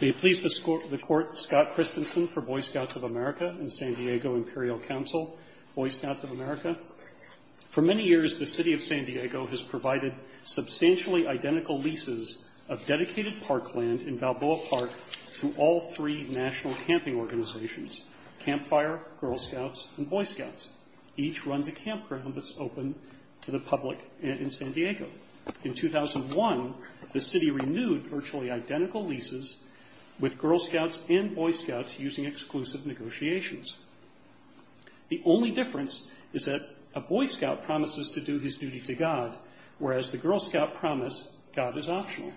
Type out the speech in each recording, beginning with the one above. May it please the Court, Scott Christensen for Boy Scouts of America and San Diego Imperial Council, Boy Scouts of America. For many years, the City of San Diego has provided substantially identical leases of dedicated parkland in Balboa Park to all three national camping organizations, Campfire, Girl Scouts, and Boy Scouts. Each runs a campground that's open to the public in San Diego. In 2001, the City renewed virtually identical leases with Girl Scouts and Boy Scouts using exclusive negotiations. The only difference is that a Boy Scout promises to do his duty to God, whereas the Girl Scout promise God is optional.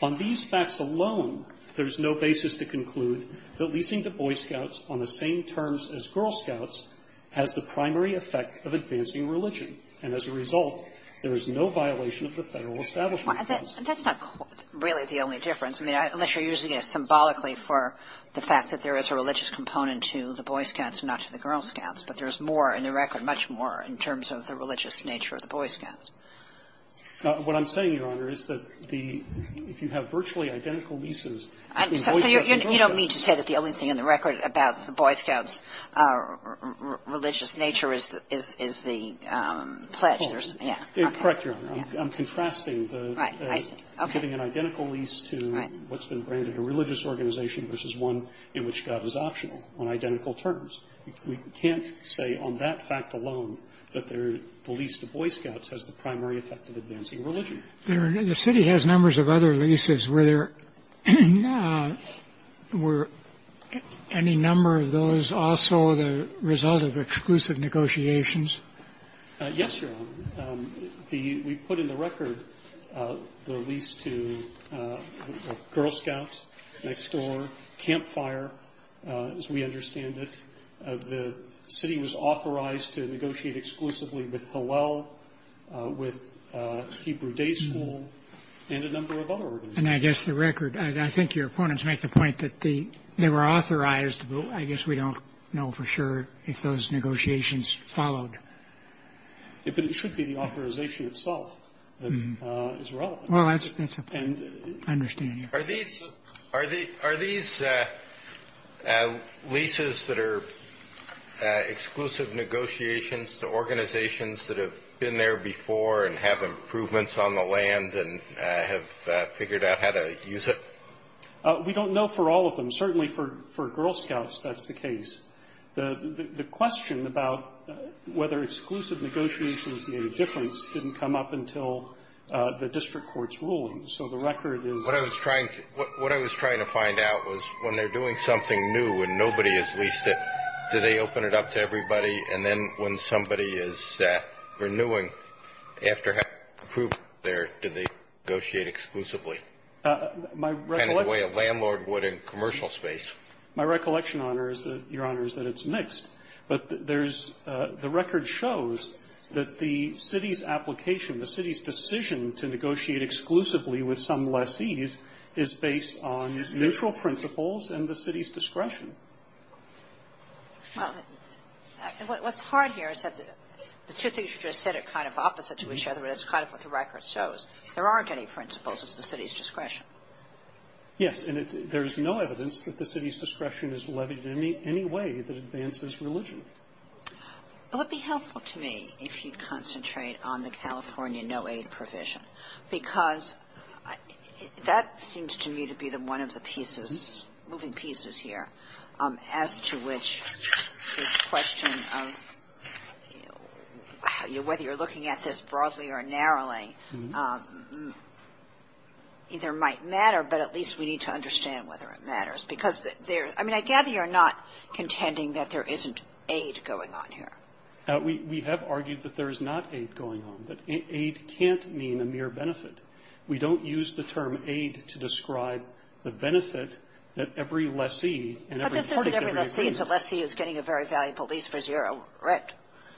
On these facts alone, there is no basis to conclude that leasing to Boy Scouts on the same terms as Girl Scouts has the primary effect of advancing religion. And as a result, there is no violation of the Federal Establishment Clause. And that's not really the only difference. I mean, unless you're using it symbolically for the fact that there is a religious component to the Boy Scouts and not to the Girl Scouts, but there's more in the record, much more in terms of the religious nature of the Boy Scouts. What I'm saying, Your Honor, is that the – if you have virtually identical leases, the Boy Scouts are different. I'm contrasting the – giving an identical lease to what's been branded a religious organization versus one in which God is optional on identical terms. We can't say on that fact alone that the lease to Boy Scouts has the primary effect of advancing religion. The City has numbers of other leases. Were there – were any number of those also the result of exclusive negotiations? Yes, Your Honor. The – we put in the record the lease to Girl Scouts, Next Door, Camp Fire, as we understand it. The City was authorized to negotiate exclusively with Hillel, with Hebrew Day School, and a number of other organizations. And I guess the record – I think your opponents make the point that they were authorized, I guess we don't know for sure if those negotiations followed. But it should be the authorization itself that is relevant. Well, that's a – I understand you. Are these leases that are exclusive negotiations to organizations that have been there before and have improvements on the land and have figured out how to use it? We don't know for all of them. Certainly for Girl Scouts, that's the case. The question about whether exclusive negotiations made a difference didn't come up until the district court's ruling. So the record is – What I was trying to find out was when they're doing something new and nobody has leased it, do they open it up to everybody? And then when somebody is renewing, after having approved there, do they negotiate exclusively? Kind of the way a landlord would in commercial space. My recollection, Your Honor, is that it's mixed. But there's – the record shows that the city's application, the city's decision to negotiate exclusively with some lessees is based on neutral principles and the city's discretion. Well, what's hard here is that the two things you just said are kind of opposite to each other, but that's kind of what the record shows. There aren't any principles. It's the city's discretion. Yes. And there's no evidence that the city's discretion is levied in any way that advances religion. Well, it would be helpful to me if you concentrate on the California no-aid provision because that seems to me to be one of the pieces, moving pieces here, as to which this question of whether you're looking at this broadly or narrowly, either might matter, but at least we need to understand whether it matters. Because there – I mean, I gather you're not contending that there isn't aid going on here. We have argued that there is not aid going on, that aid can't mean a mere benefit. We don't use the term aid to describe the benefit that every lessee and every city agrees. But this isn't every lessee. It's a lessee who's getting a very valuable lease for zero rent.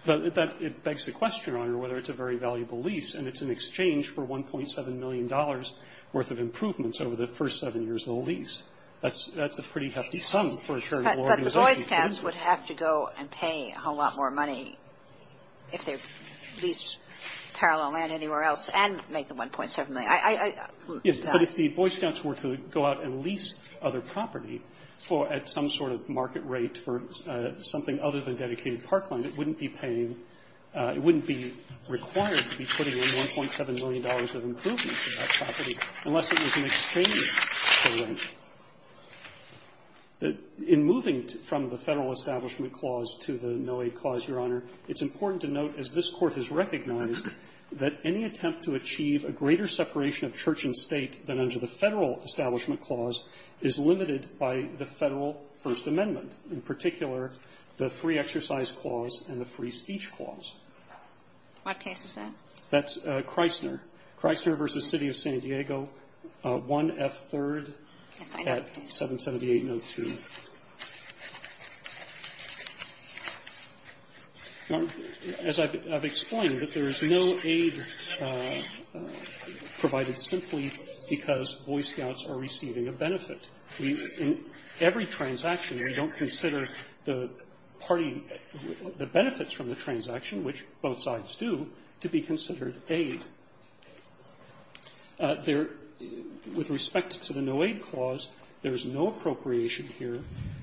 But it begs the question, Your Honor, whether it's a very valuable lease and it's in exchange for $1.7 million worth of improvements over the first seven years of the lease. That's a pretty hefty sum for a charitable organization. But the Boy Scouts would have to go and pay a whole lot more money if they leased parallel land anywhere else and make the $1.7 million. Yes. But if the Boy Scouts were to go out and lease other property at some sort of market rate for something other than dedicated parkland, it wouldn't be paying – it wouldn't be required to be putting in $1.7 million of improvement for that property unless it was in exchange for rent. In moving from the Federal Establishment Clause to the no-aid clause, Your Honor, it's important to note, as this Court has recognized, that any attempt to achieve a greater separation of church and state than under the Federal Establishment Clause is limited by the Federal First Amendment, in particular, the Free Exercise Clause and the Free Speech Clause. What case is that? That's Chrysler. Chrysler v. City of San Diego, 1F3rd at 778-02. Your Honor, as I've explained, that there is no aid provided simply because Boy Scouts are receiving a benefit. We – in every transaction, we don't consider the party – the benefits from the transaction, which both sides do, to be considered aid. There – with respect to the no-aid clause, there is no appropriation here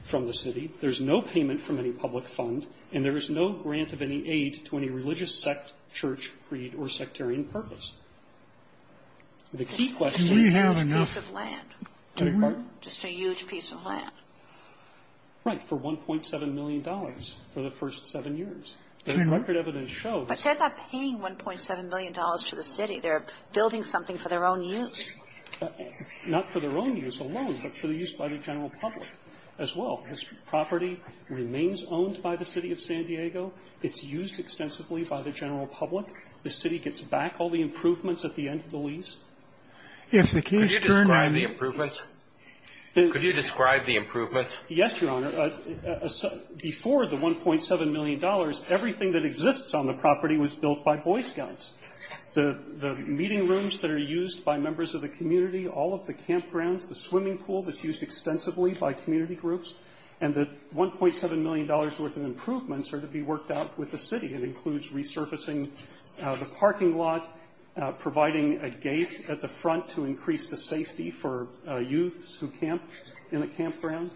from the city, there is no payment from any public fund, and there is no grant of any aid to any religious sect, church, creed, or sectarian purpose. The key question is this piece of land. Do we have enough – do we? Just a huge piece of land. Right. For $1.7 million for the first seven years. The record evidence shows – But they're not paying $1.7 million to the city. They're building something for their own use. Not for their own use alone, but for the use by the general public as well. This property remains owned by the City of San Diego. It's used extensively by the general public. The city gets back all the improvements at the end of the lease. If the case turned on – Could you describe the improvements? Could you describe the improvements? Yes, Your Honor. Before the $1.7 million, everything that exists on the property was built by Boy Scouts. The meeting rooms that are used by members of the community, all of the campgrounds, the swimming pool that's used extensively by community groups, and the $1.7 million worth of improvements are to be worked out with the city. It includes resurfacing the parking lot, providing a gate at the front to increase the safety for youths who camp in the campground.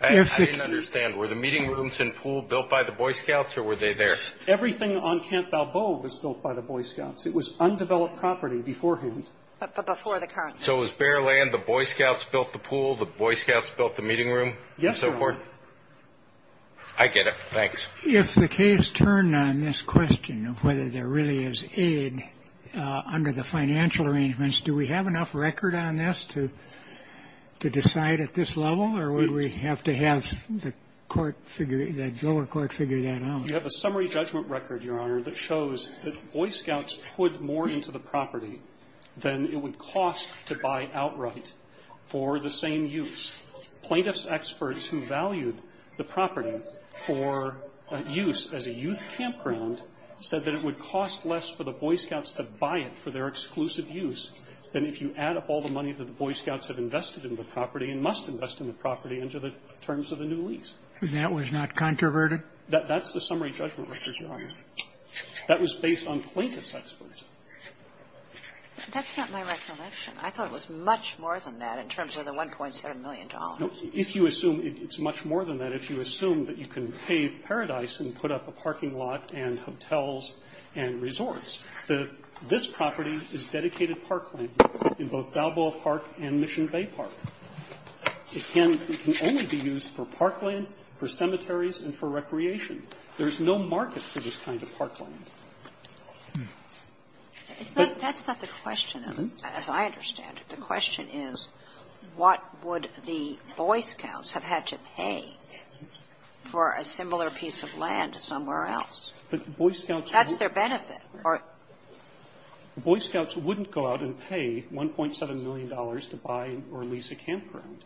I didn't understand. Were the meeting rooms and pool built by the Boy Scouts, or were they there? Everything on Camp Balboa was built by the Boy Scouts. It was undeveloped property beforehand. But before the current. So it was bare land. The Boy Scouts built the pool. The Boy Scouts built the meeting room and so forth? Yes, Your Honor. I get it. Thanks. If the case turned on this question of whether there really is aid under the financial arrangements, do we have enough record on this to decide at this level? Or would we have to have the lower court figure that out? You have a summary judgment record, Your Honor, that shows that Boy Scouts put more into the property than it would cost to buy outright for the same use. Plaintiff's experts who valued the property for use as a youth campground said that it would cost less for the Boy Scouts to buy it for their exclusive use than if you add up all the money that the Boy Scouts have invested in the property and must invest in the property under the terms of the new lease. And that was not controverted? That's the summary judgment record, Your Honor. That was based on plaintiff's experts. That's not my recollection. I thought it was much more than that in terms of the $1.7 million. No. If you assume it's much more than that, if you assume that you can pave paradise and put up a parking lot and hotels and resorts, this property is dedicated parkland in both Balboa Park and Mission Bay Park. It can only be used for parkland, for cemeteries, and for recreation. There is no market for this kind of parkland. That's not the question, as I understand it. The question is, what would the Boy Scouts have had to pay for a similar piece of land somewhere else? That's their benefit. Boy Scouts wouldn't go out and pay $1.7 million to buy or lease a campground.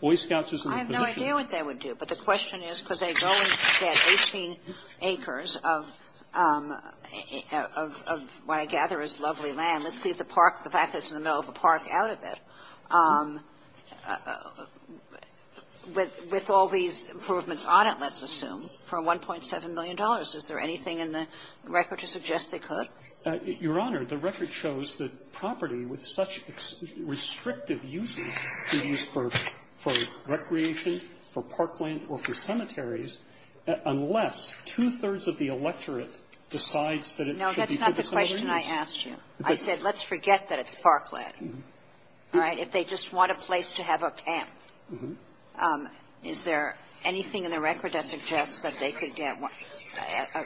Boy Scouts is a reposition. I have no idea what they would do. But the question is, could they go and get 18 acres of what I gather is lovely land, let's leave the park, the fact that it's in the middle of a park, out of it, with all these improvements on it, let's assume, for $1.7 million? Is there anything in the record to suggest they could? Your Honor, the record shows that property with such restrictive uses could be used for recreation, for parkland, or for cemeteries, unless two-thirds of the electorate decides that it should be used for recreation. No, that's not the question I asked you. I said, let's forget that it's parkland. All right? If they just want a place to have a camp, is there anything in the record that suggests that they could get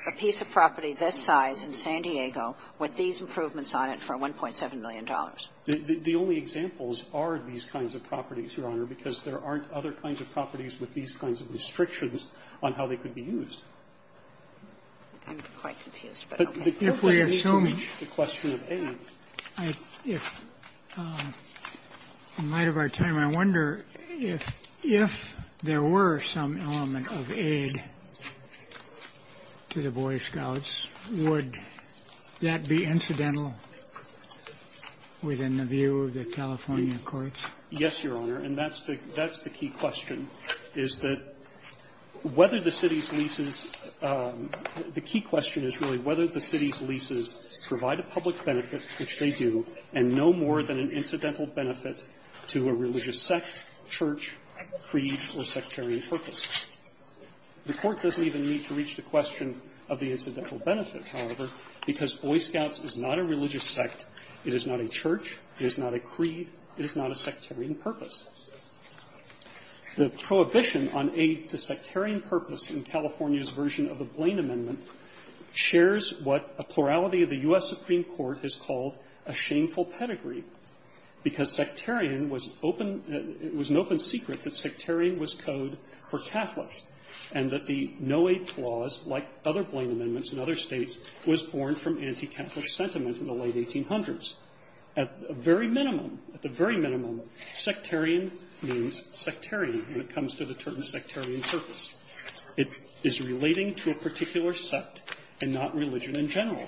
a piece of property this size in San Diego with these improvements on it for $1.7 million? The only examples are these kinds of properties, Your Honor, because there aren't other kinds of properties with these kinds of restrictions on how they could be used. I'm quite confused, but okay. If we assume the question of aid, if, in light of our time, I wonder if there were some element of aid to the Boy Scouts, would that be incidental? Within the view of the California courts? Yes, Your Honor. And that's the key question, is that whether the city's leases – the key question is really whether the city's leases provide a public benefit, which they do, and no more than an incidental benefit to a religious sect, church, creed, or sectarian purpose. The Court doesn't even need to reach the question of the incidental benefit, however, because Boy Scouts is not a religious sect, it is not a church, it is not a creed, it is not a sectarian purpose. The prohibition on aid to sectarian purpose in California's version of the Blaine Amendment shares what a plurality of the U.S. Supreme Court has called a shameful pedigree, because sectarian was open – it was an open secret that sectarian was code for Catholic, and that the no-aid clause, like other Blaine Amendments in other States, was born from anti-Catholic sentiment in the late 1800s. At the very minimum, sectarian means sectarian when it comes to the term sectarian purpose. It is relating to a particular sect and not religion in general.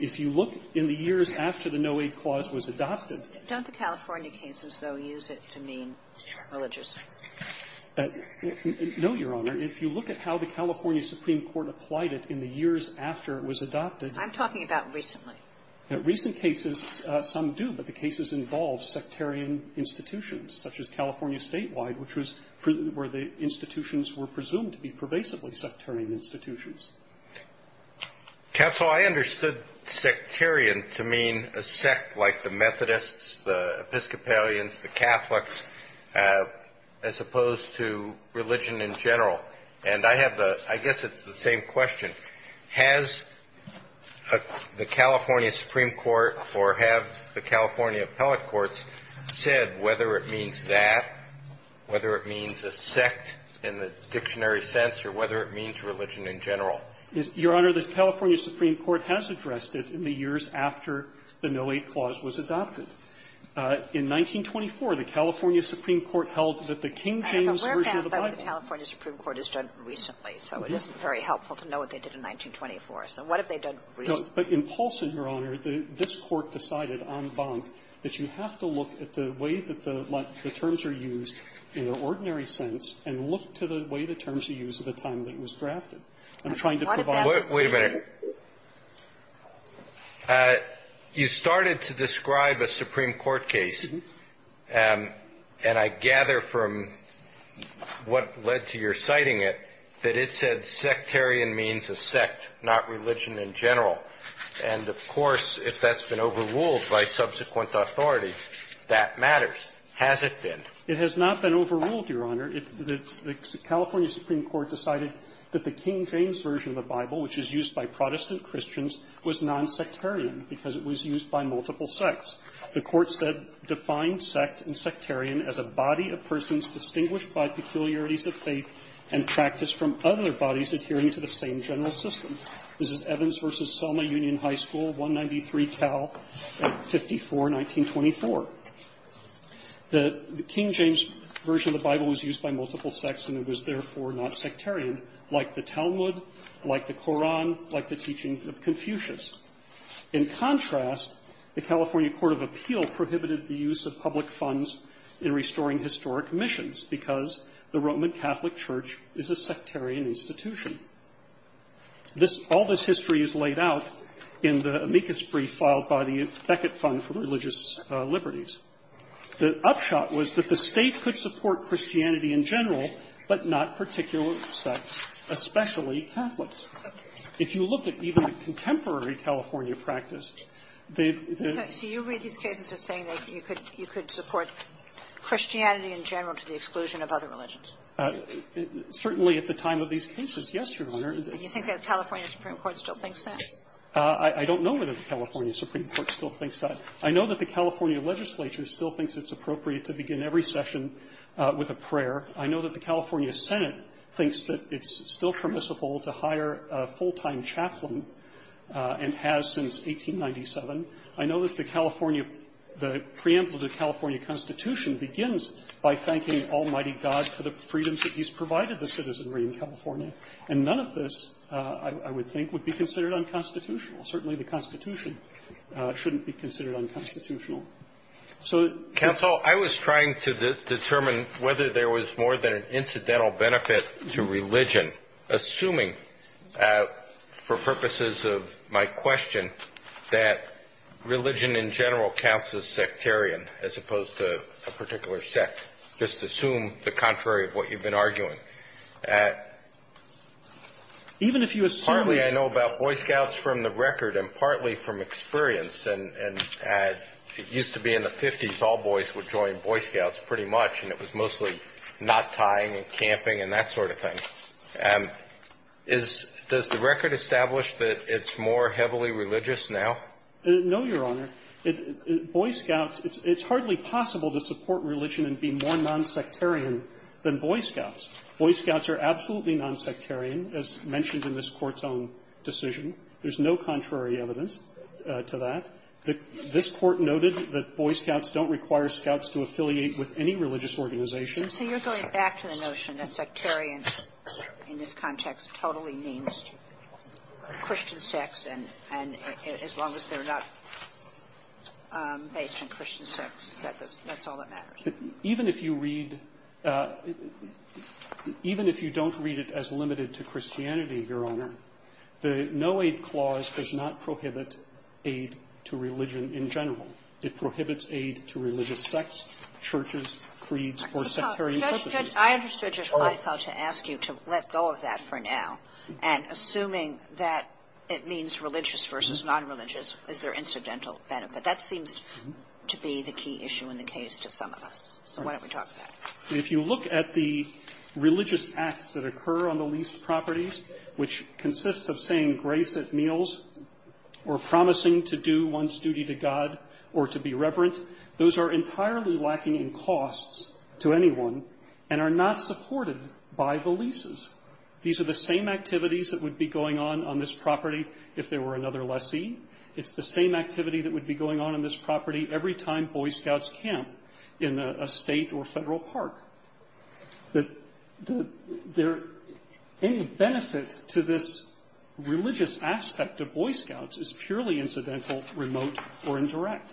If you look in the years after the no-aid clause was adopted – Don't the California cases, though, use it to mean religious? No, Your Honor. If you look at how the California Supreme Court applied it in the years after it was adopted – I'm talking about recently. Recent cases, some do, but the cases involve sectarian institutions, such as California statewide, which was where the institutions were presumed to be pervasively sectarian institutions. Counsel, I understood sectarian to mean a sect like the Methodists, the Episcopalians, the Catholics, as opposed to religion in general. And I have the – I guess it's the same question. Has the California Supreme Court or have the California appellate courts said whether it means that, whether it means a sect in the dictionary sense, or whether it means religion in general? Your Honor, the California Supreme Court has addressed it in the years after the no-aid clause was adopted. In 1924, the California Supreme Court held that the King James version of the Bible – I have a rare fact that the California Supreme Court has done recently, so it isn't very helpful to know what they did in 1924. So what have they done recently? But in Paulson, Your Honor, this Court decided en banc that you have to look at the way that the terms are used in the ordinary sense and look to the way the terms are used at the time that it was drafted. I'm trying to provide – Wait a minute. You started to describe a Supreme Court case, and I gather from what led to your citing it that it said sectarian means a sect, not religion in general. And of course, if that's been overruled by subsequent authority, that matters. Has it been? It has not been overruled, Your Honor. The California Supreme Court decided that the King James version of the Bible, which is used by Protestant Christians, was nonsectarian because it was used by multiple sects. The Court said, defined sect and sectarian as a body of persons distinguished by peculiarities of faith and practiced from other bodies adhering to the same general system. This is Evans v. Selma Union High School, 193 Cal, 54, 1924. The King James version of the Bible was used by multiple sects, and it was, therefore, not sectarian, like the Talmud, like the Koran, like the teachings of Confucius. In contrast, the California Court of Appeal prohibited the use of public funds in restoring historic missions because the Roman Catholic Church is a sectarian institution. All this history is laid out in the amicus brief filed by the Beckett Fund for Religious Liberties. The upshot was that the State could support Christianity in general, but not particular sects, especially Catholics. If you look at even contemporary California practice, the — Kagan. So you read these cases as saying that you could support Christianity in general to the exclusion of other religions? Certainly at the time of these cases, yes, Your Honor. Do you think that the California Supreme Court still thinks that? I don't know whether the California Supreme Court still thinks that. I know that the California legislature still thinks it's appropriate to begin every session with a prayer. I know that the California Senate thinks that it's still permissible to hire a full-time chaplain, and has since 1897. I know that the California — the preamble to the California Constitution begins by thanking Almighty God for the freedoms that He's provided the citizenry in California. And none of this, I would think, would be considered unconstitutional. Certainly the Constitution shouldn't be considered unconstitutional. So — Counsel, I was trying to determine whether there was more than an incidental benefit to religion, assuming, for purposes of my question, that religion in general counts as sectarian, as opposed to a particular sect. Just assume the contrary of what you've been arguing. Even if you assume — Boy Scouts, from the record, and partly from experience — and it used to be in the 50s, all boys would join Boy Scouts, pretty much, and it was mostly knot-tying and camping and that sort of thing. Does the record establish that it's more heavily religious now? No, Your Honor. Boy Scouts — it's hardly possible to support religion and be more nonsectarian than Boy Scouts. Boy Scouts are absolutely nonsectarian, as mentioned in this Court's own decision. There's no contrary evidence to that. This Court noted that Boy Scouts don't require Scouts to affiliate with any religious organization. And so you're going back to the notion that sectarian, in this context, totally means Christian sects, and as long as they're not based on Christian sects, that's all that matters. Even if you read — even if you don't read it as limited to Christianity, Your Honor, the no-aid clause does not prohibit aid to religion in general. It prohibits aid to religious sects, churches, creeds, or sectarian purposes. I understood, Judge Kleinfeld, to ask you to let go of that for now, and assuming that it means religious versus nonreligious, is there incidental benefit? That seems to be the key issue in the case to some of us. So why don't we talk about it? If you look at the religious acts that occur on the leased properties, which consist of saying grace at meals or promising to do one's duty to God or to be reverent, those are entirely lacking in costs to anyone and are not supported by the leases. These are the same activities that would be going on on this property if there were another lessee. It's the same activity that would be going on in this property every time Boy Scouts camp in a state or federal park. Any benefit to this religious aspect of Boy Scouts is purely incidental, remote, or indirect.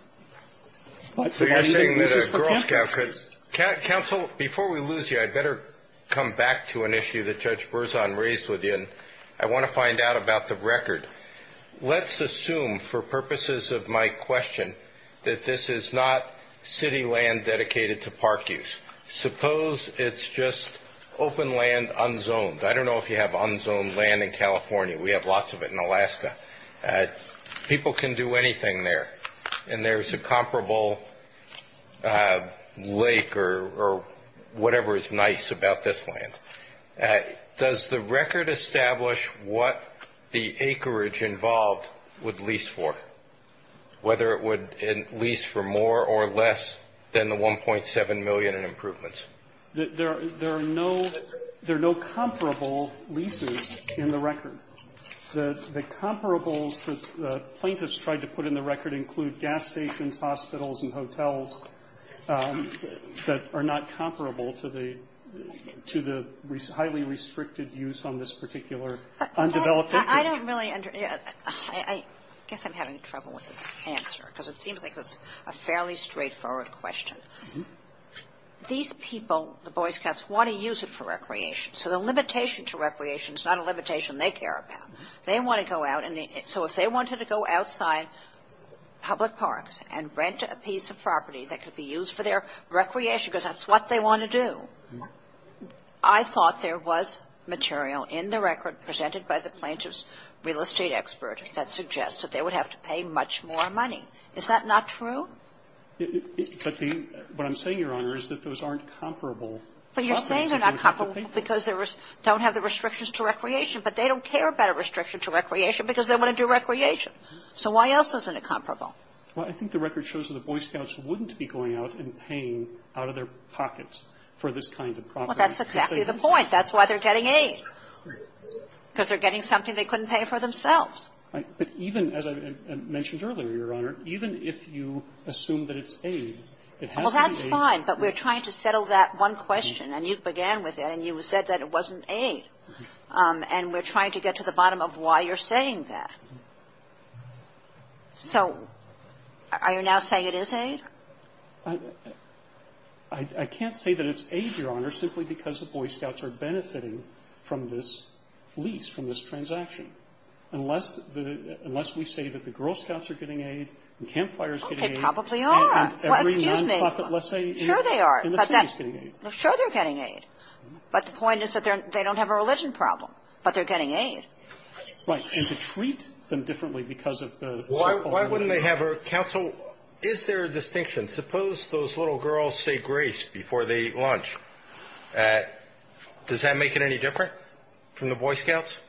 So you're saying that a Girl Scout could — Counsel, before we lose you, I'd better come back to an issue that Judge Berzon raised with you, and I want to find out about the record. Let's assume, for purposes of my question, that this is not city land dedicated to park use. Suppose it's just open land unzoned. I don't know if you have unzoned land in California. We have lots of it in Alaska. People can do anything there, and there's a comparable lake or whatever is nice about this land. Does the record establish what the acreage involved would lease for, whether it would lease for more or less than the $1.7 million in improvements? There are no comparable leases in the record. The comparables that the plaintiffs tried to put in the record include gas stations, hospitals, and hotels that are not highly restricted use on this particular undeveloped acreage. I don't really — I guess I'm having trouble with this answer, because it seems like it's a fairly straightforward question. These people, the Boy Scouts, want to use it for recreation. So the limitation to recreation is not a limitation they care about. They want to go out, and so if they wanted to go outside public parks and rent a piece of property that could be used for their recreation, because that's what they want to do, I thought there was material in the record presented by the plaintiff's real estate expert that suggests that they would have to pay much more money. Is that not true? But the — what I'm saying, Your Honor, is that those aren't comparable. But you're saying they're not comparable because they don't have the restrictions to recreation, but they don't care about a restriction to recreation because they want to do recreation. So why else isn't it comparable? Well, I think the record shows that the Boy Scouts wouldn't be going out and paying out of their pockets for this kind of property. Well, that's exactly the point. That's why they're getting aid, because they're getting something they couldn't pay for themselves. But even, as I mentioned earlier, Your Honor, even if you assume that it's aid, it has to be aid. Well, that's fine, but we're trying to settle that one question, and you began with it, and you said that it wasn't aid. And we're trying to get to the bottom of why you're saying that. So are you now saying it is aid? I can't say that it's aid, Your Honor, simply because the Boy Scouts are benefiting from this lease, from this transaction, unless the — unless we say that the Girl Scouts are getting aid, and Camp Fire is getting aid. Oh, they probably are. And every nonprofit, let's say, in the city is getting aid. Sure they are. Sure they're getting aid. But the point is that they don't have a religion problem, but they're getting aid. Right. And to treat them differently because of the so-called aid. Why wouldn't they have a council? Is there a distinction? Suppose those little girls say grace before they eat lunch. Does that make it any different from the Boy Scouts?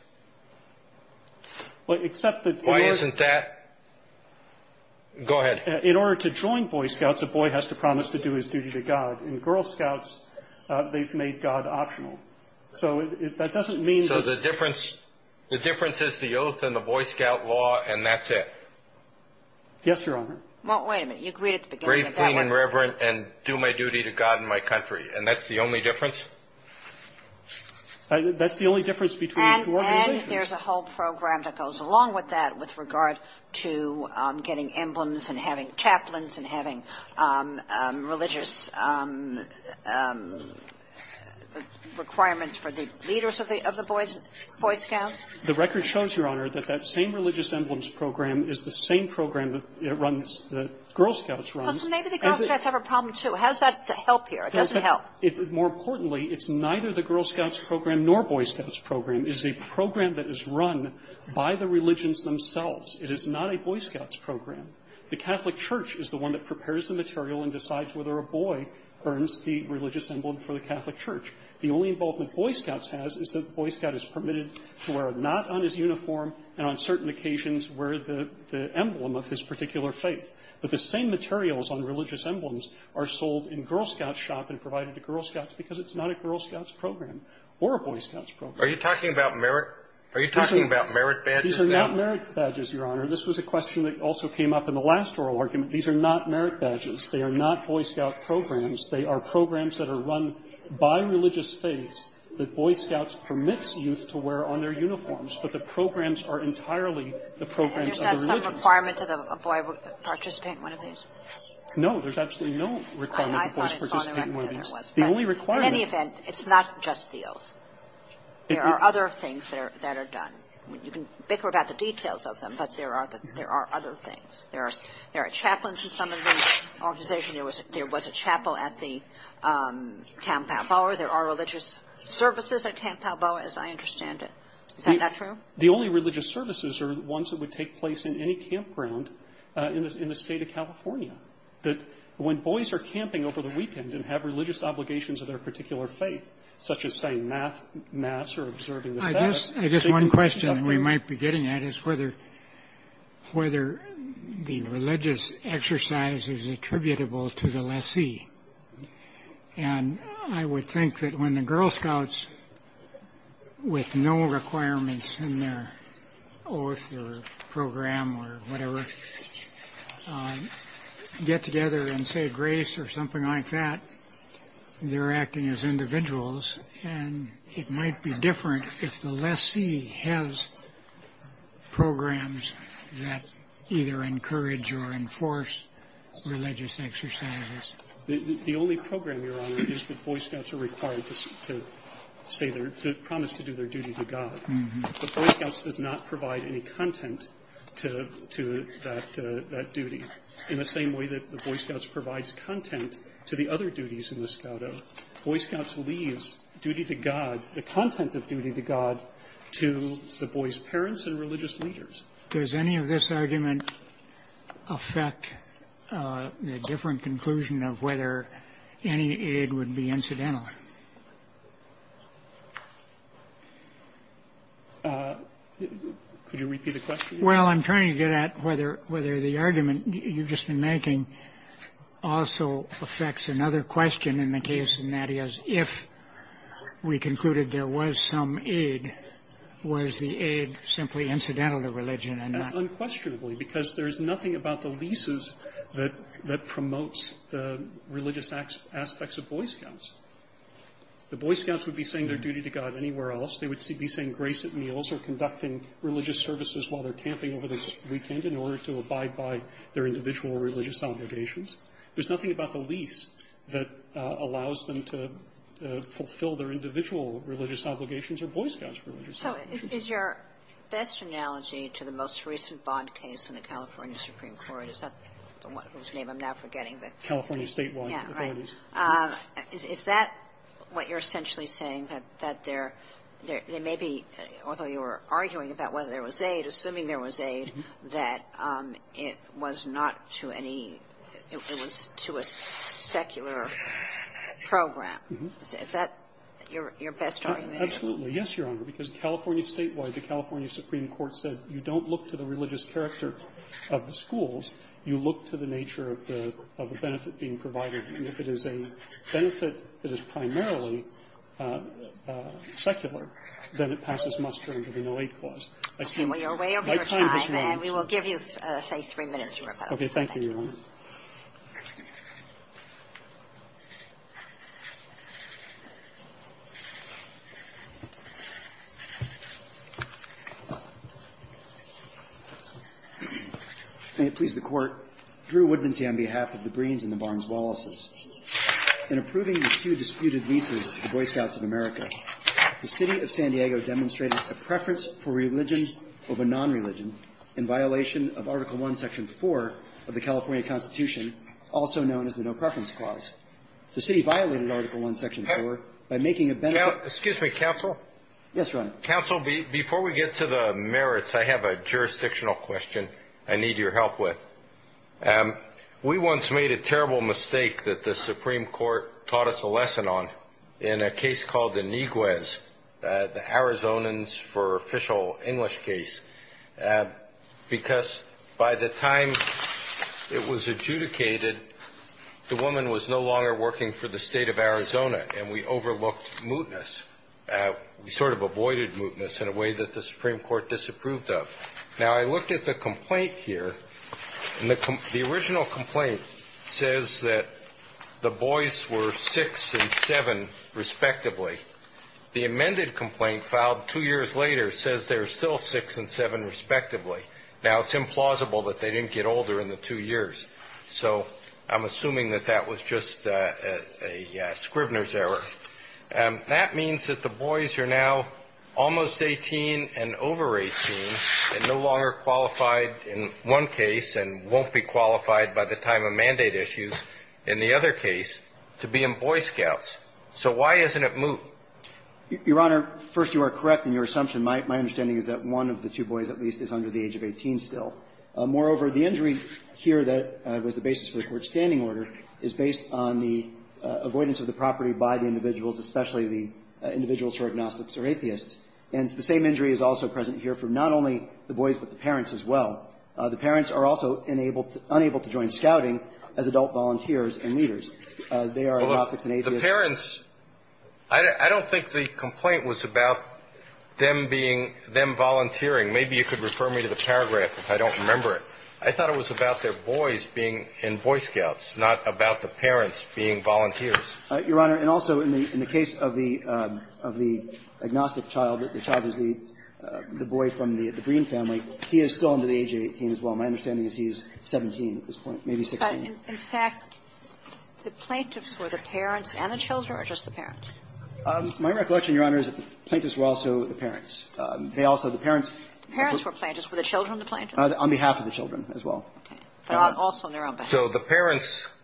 Well, except that — Why isn't that — go ahead. In order to join Boy Scouts, a boy has to promise to do his duty to God. In Girl Scouts, they've made God optional. So that doesn't mean that — The difference is the oath and the Boy Scout law, and that's it. Yes, Your Honor. Well, wait a minute. You agreed at the beginning of that one. Gravely and reverent, and do my duty to God and my country. And that's the only difference? That's the only difference between the two organizations. And there's a whole program that goes along with that with regard to getting emblems and having chaplains and having religious requirements for the leaders of the Boy Scout The record shows, Your Honor, that that same religious emblems program is the same program that runs — that Girl Scouts runs. Well, so maybe the Girl Scouts have a problem, too. How's that to help here? It doesn't help. More importantly, it's neither the Girl Scouts program nor Boy Scouts program is a program that is run by the religions themselves. It is not a Boy Scouts program. The Catholic Church is the one that prepares the material and decides whether a boy earns the religious emblem for the Catholic Church. The only involvement that Boy Scouts has is that Boy Scout is permitted to wear a knot on his uniform and on certain occasions wear the emblem of his particular faith. But the same materials on religious emblems are sold in Girl Scout shop and provided to Girl Scouts because it's not a Girl Scouts program or a Boy Scouts program. Are you talking about merit? Are you talking about merit badges? These are not merit badges, Your Honor. This was a question that also came up in the last oral argument. These are not merit badges. They are not Boy Scout programs. They are programs that are run by religious faiths that Boy Scouts permits youth to wear on their uniforms, but the programs are entirely the programs of the religions. And is that some requirement to the boy participating in one of these? No. There's absolutely no requirement for boys to participate in one of these. I thought it was. The only requirement – In any event, it's not just the oath. There are other things that are done. You can bicker about the details of them, but there are other things. There are chaplains in some of these organizations. There was a chapel at the Camp Palboa. There are religious services at Camp Palboa, as I understand it. Is that not true? The only religious services are ones that would take place in any campground in the State of California. When boys are camping over the weekend and have religious obligations of their particular faith, such as, say, math or observing the Sabbath. I guess one question we might be getting at is whether the religious exercise is attributable to the lessee. And I would think that when the Girl Scouts, with no requirements in their oath or program or whatever, get together and say grace or something like that, they're acting as individuals. And it might be different if the lessee has programs that either encourage or enforce religious exercises. The only program, Your Honor, is that Boy Scouts are required to say their – promise to do their duty to God. But Boy Scouts does not provide any content to that duty. In the same way that the Boy Scouts provides content to the other duties in the Scout Oath, Boy Scouts leaves duty to God, the content of duty to God, to the boys' parents and religious leaders. Does any of this argument affect the different conclusion of whether any aid would be incidental? Could you repeat the question? Well, I'm trying to get at whether the argument you've just been making also affects another question in the case of Nadia's, if we concluded there was some aid, was the aid simply incidental to religion and not? Unquestionably, because there is nothing about the leases that promotes the religious aspects of Boy Scouts. The Boy Scouts would be saying their duty to God anywhere else. They would be saying grace at meals or conducting religious services while they're camping over the weekend in order to abide by their individual religious obligations. There's nothing about the lease that allows them to fulfill their individual religious obligations or Boy Scouts' religious obligations. So is your best analogy to the most recent bond case in the California Supreme Court, is that the one whose name I'm now forgetting? The California statewide authorities. Yeah, right. Is that what you're essentially saying, that there may be, although you were arguing about whether there was aid, assuming there was aid, that it was not to any, it was to a secular program? Is that your best argument? Absolutely. Yes, Your Honor, because California statewide, the California Supreme Court said you don't look to the religious character of the schools, you look to the nature of the benefit being provided. And if it is a benefit that is primarily secular, then it passes muster under the 2008 clause. Okay. Well, you're way over your time. My time has run. And we will give you, say, three minutes, Your Honor. Okay. Thank you, Your Honor. May it please the Court. Drew Woodmansey on behalf of the Breens and the Barnes-Wallaces. Thank you. issued a request for religion over nonreligion in violation of Article I, Section 4 of the California Constitution, also known as the No Preference Clause. The city violated Article I, Section 4 by making a benefit of the non-religious and non-secular. Excuse me, counsel. Yes, Your Honor. Counsel, before we get to the merits, I have a jurisdictional question I need your help with. We once made a terrible mistake that the Supreme Court taught us a lesson on in a case called the Niguez, the Arizonans for official English case, because by the time it was adjudicated, the woman was no longer working for the state of Arizona, and we overlooked mootness. We sort of avoided mootness in a way that the Supreme Court disapproved of. Now, I looked at the complaint here, and the original complaint says that the boys were 6 and 7, respectively. The amended complaint filed two years later says they were still 6 and 7, respectively. Now, it's implausible that they didn't get older in the two years, so I'm assuming that that was just a Scribner's error. And that means that the boys are now almost 18 and over 18 and no longer qualified in one case and won't be qualified by the time of mandate issues in the other case to be in Boy Scouts. So why isn't it moot? Your Honor, first, you are correct in your assumption. My understanding is that one of the two boys at least is under the age of 18 still. Moreover, the injury here that was the basis for the court's standing order is based on the avoidance of the property by the individuals, especially the individuals who are agnostics or atheists. And the same injury is also present here for not only the boys but the parents as well. The parents are also unable to join scouting as adult volunteers and leaders. They are agnostics and atheists. The parents – I don't think the complaint was about them being – them volunteering. Maybe you could refer me to the paragraph if I don't remember it. But I thought it was about their boys being in Boy Scouts, not about the parents being volunteers. Your Honor, and also in the case of the agnostic child, the child is the boy from the Green family. He is still under the age of 18 as well. My understanding is he is 17 at this point, maybe 16. But, in fact, the plaintiffs were the parents and the children or just the parents? My recollection, Your Honor, is that the plaintiffs were also the parents. They also, the parents – The parents were plaintiffs. Were the children the plaintiffs? On behalf of the children as well. Also on their own behalf. So the parents –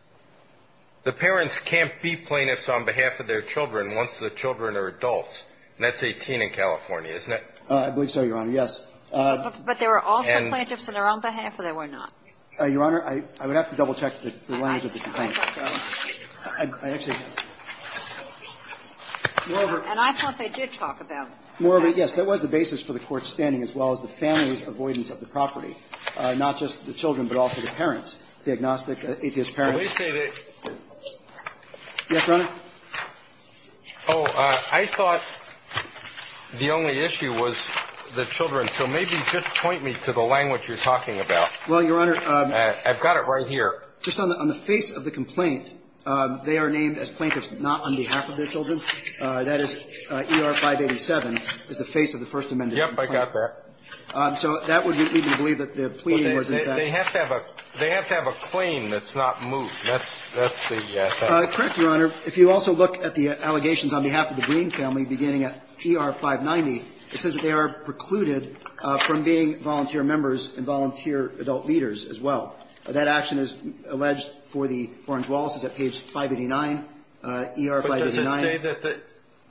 the parents can't be plaintiffs on behalf of their children once the children are adults. And that's 18 in California, isn't it? I believe so, Your Honor, yes. But they were also plaintiffs on their own behalf or they were not? Your Honor, I would have to double-check the language of the complaint. I thought – I actually – And I thought they did talk about that. More of a – yes. That was the basis for the Court's standing as well as the family's avoidance of the property, not just the children but also the parents, the agnostic, atheist parents. Well, they say that – Yes, Your Honor. Oh, I thought the only issue was the children. So maybe just point me to the language you're talking about. Well, Your Honor – I've got it right here. Just on the face of the complaint, they are named as plaintiffs not on behalf of their Yes, I got that. So that would lead me to believe that the plea was in fact – They have to have a claim that's not moved. That's the – Correct, Your Honor. If you also look at the allegations on behalf of the Green family beginning at ER-590, it says that they are precluded from being volunteer members and volunteer adult leaders as well. That action is alleged for the Orange-Wallaces at page 589, ER-589.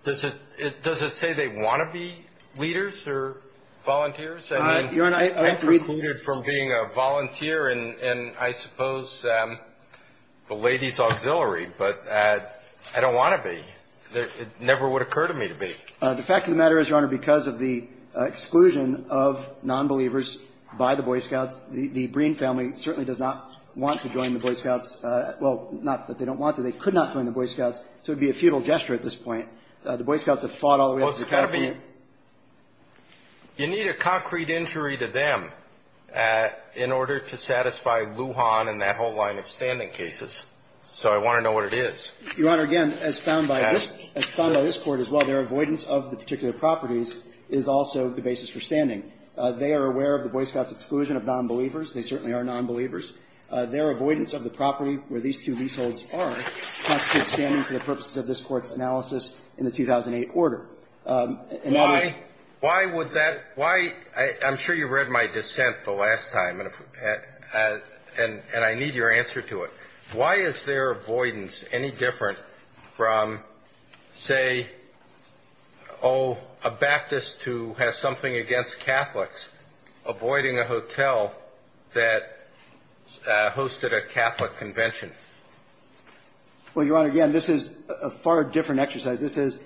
Does it say that – does it say they want to be leaders or volunteers? I mean – Your Honor, I precluded from – I'm precluded from being a volunteer in, I suppose, the ladies' auxiliary, but I don't want to be. It never would occur to me to be. The fact of the matter is, Your Honor, because of the exclusion of nonbelievers by the Boy Scouts, the Green family certainly does not want to join the Boy Scouts – well, not that they don't want to. They could not join the Boy Scouts, so it would be a futile gesture at this point. The Boy Scouts have fought all the way up to the – Well, it's got to be – you need a concrete injury to them in order to satisfy Lujan and that whole line of standing cases. So I want to know what it is. Your Honor, again, as found by this – as found by this Court as well, their avoidance of the particular properties is also the basis for standing. They are aware of the Boy Scouts' exclusion of nonbelievers. They certainly are nonbelievers. Their avoidance of the property where these two leaseholds are constitutes standing for the purposes of this Court's analysis in the 2008 order. In other words – Why – why would that – why – I'm sure you read my dissent the last time, and I need your answer to it. Why is their avoidance any different from, say, oh, a Baptist who has something against Catholics avoiding a hotel that hosted a Catholic convention? Well, Your Honor, again, this is a far different exercise. This is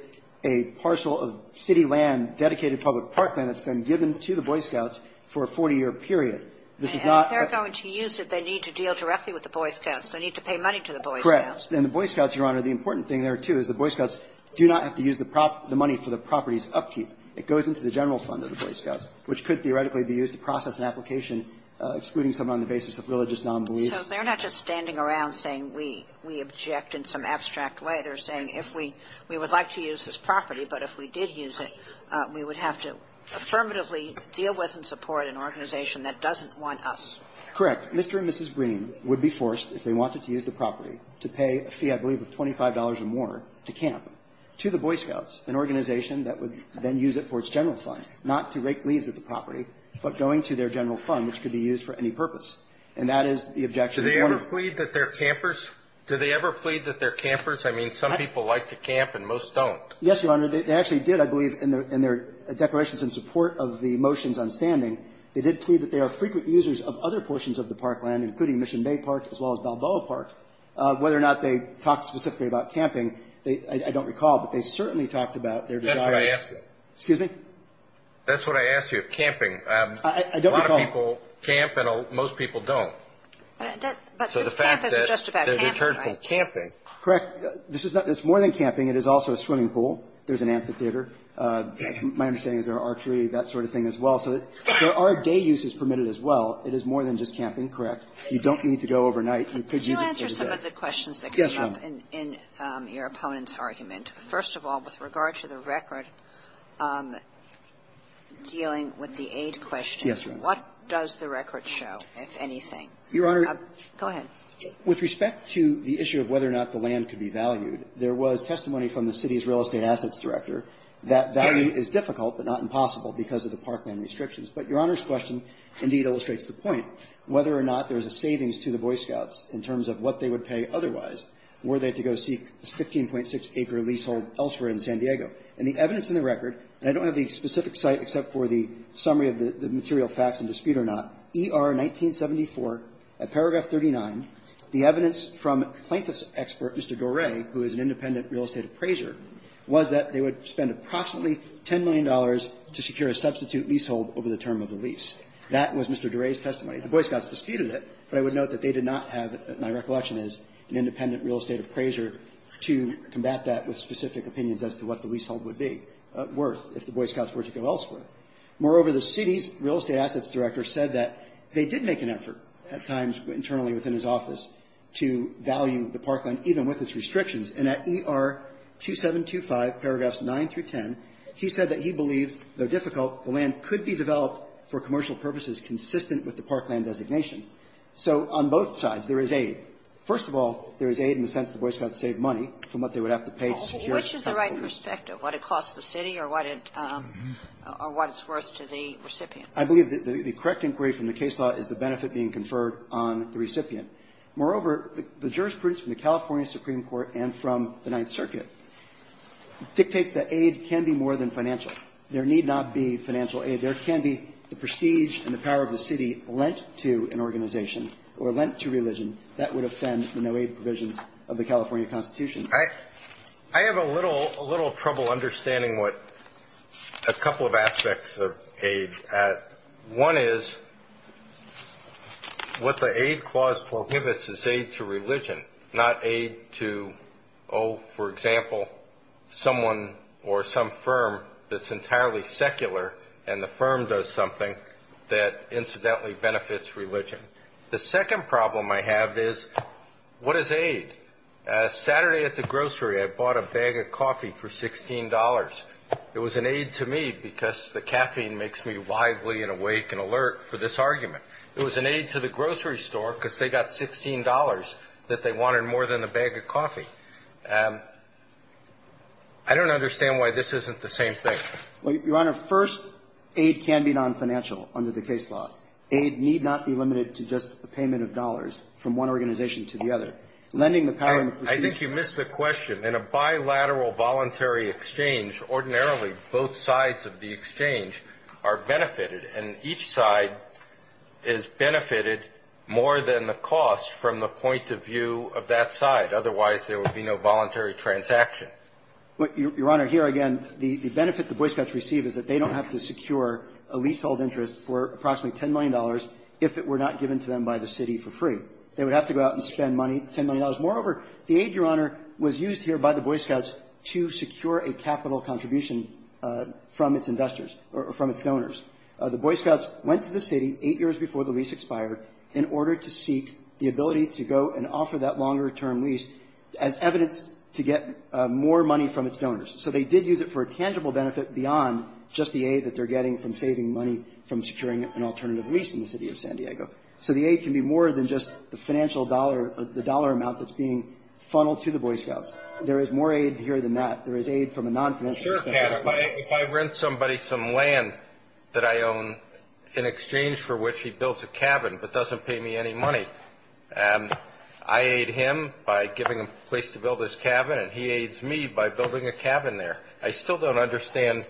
a parcel of city land, dedicated public parkland that's been given to the Boy Scouts for a 40-year period. This is not – And if they're going to use it, they need to deal directly with the Boy Scouts. They need to pay money to the Boy Scouts. Correct. And the Boy Scouts, Your Honor, the important thing there, too, is the Boy Scouts do not have to use the money for the property's upkeep. It goes into the general fund of the Boy Scouts, which could theoretically be used to process an application excluding someone on the basis of religious nonbelief. So they're not just standing around saying we – we object in some abstract way. They're saying if we – we would like to use this property, but if we did use it, we would have to affirmatively deal with and support an organization that doesn't want us. Correct. Mr. and Mrs. Green would be forced, if they wanted to use the property, to pay a fee, I believe, of $25 or more to camp to the Boy Scouts, an organization that would then use it for its general fund, not to rake leaves at the property, but going to their general fund, which could be used for any purpose. And that is the objection. Do they ever plead that they're campers? Do they ever plead that they're campers? I mean, some people like to camp and most don't. Yes, Your Honor. They actually did, I believe, in their – in their declarations in support of the motions on standing, they did plead that they are frequent users of other portions of the parkland, including Mission Bay Park as well as Balboa Park. Whether or not they talked specifically about camping, they – I don't recall, but they certainly talked about their desire to – That's what I asked you. Excuse me? That's what I asked you. Camping. I don't recall – A lot of people camp and most people don't. But this camp isn't just about camping, right? Correct. This is not – it's more than camping. It is also a swimming pool. There's an amphitheater. My understanding is there are archery, that sort of thing as well. So there are day uses permitted as well. It is more than just camping, correct. You don't need to go overnight. You could use it for the day. I have two questions that came up in your opponent's argument. First of all, with regard to the record dealing with the aid question. Yes, Your Honor. What does the record show, if anything? Your Honor. Go ahead. With respect to the issue of whether or not the land could be valued, there was testimony from the city's real estate assets director that value is difficult but not impossible because of the parkland restrictions. But Your Honor's question indeed illustrates the point. Whether or not there is a savings to the Boy Scouts in terms of what they would pay otherwise were they to go seek a 15.6-acre leasehold elsewhere in San Diego. And the evidence in the record, and I don't have the specific site except for the summary of the material facts in dispute or not, ER 1974 at paragraph 39, the evidence from plaintiff's expert, Mr. Doray, who is an independent real estate appraiser, was that they would spend approximately $10 million to secure a substitute leasehold over the term of the lease. That was Mr. Doray's testimony. The Boy Scouts disputed it, but I would note that they did not have, my recollection is, an independent real estate appraiser to combat that with specific opinions as to what the leasehold would be worth if the Boy Scouts were to go elsewhere. Moreover, the city's real estate assets director said that they did make an effort at times internally within his office to value the parkland, even with its restrictions. And at ER 2725, paragraphs 9 through 10, he said that he believed, though difficult, the land could be developed for commercial purposes consistent with the parkland designation. So on both sides, there is aid. First of all, there is aid in the sense that the Boy Scouts saved money from what they would have to pay to secure a substitute lease. Sotomayor, which is the right perspective, what it costs the city or what it's worth to the recipient? I believe that the correct inquiry from the case law is the benefit being conferred on the recipient. Moreover, the jurisprudence from the California Supreme Court and from the Ninth Circuit dictates that aid can be more than financial. So there need not be financial aid. There can be the prestige and the power of the city lent to an organization or lent to religion. That would offend the no-aid provisions of the California Constitution. I have a little trouble understanding what a couple of aspects of aid add. One is what the aid clause prohibits is aid to religion, not aid to, oh, for example, someone or some firm that's entirely secular and the firm does something that incidentally benefits religion. The second problem I have is what is aid? Saturday at the grocery, I bought a bag of coffee for $16. It was an aid to me because the caffeine makes me lively and awake and alert for this argument. It was an aid to the grocery store because they got $16 that they wanted more than a bag of coffee. I don't understand why this isn't the same thing. Well, Your Honor, first, aid can be non-financial under the case law. Aid need not be limited to just a payment of dollars from one organization to the other. Lending the power and prestige. I think you missed the question. In a bilateral voluntary exchange, ordinarily both sides of the exchange are benefited and each side is benefited more than the cost from the point of view of that side. Otherwise, there would be no voluntary transaction. Your Honor, here again, the benefit the Boy Scouts receive is that they don't have to secure a leasehold interest for approximately $10 million if it were not given to them by the city for free. They would have to go out and spend money, $10 million. Moreover, the aid, Your Honor, was used here by the Boy Scouts to secure a capital contribution from its investors or from its donors. The Boy Scouts went to the city eight years before the lease expired in order to seek the ability to go and offer that longer-term lease as evidence to get more money from its donors. So they did use it for a tangible benefit beyond just the aid that they're getting from saving money from securing an alternative lease in the city of San Diego. So the aid can be more than just the financial dollar or the dollar amount that's being funneled to the Boy Scouts. There is more aid here than that. There is aid from a non-financial center. Sure, Pat. If I rent somebody some land that I own in exchange for which he builds a cabin but doesn't pay me any money, I aid him by giving him a place to build his cabin, and he aids me by building a cabin there. I still don't understand.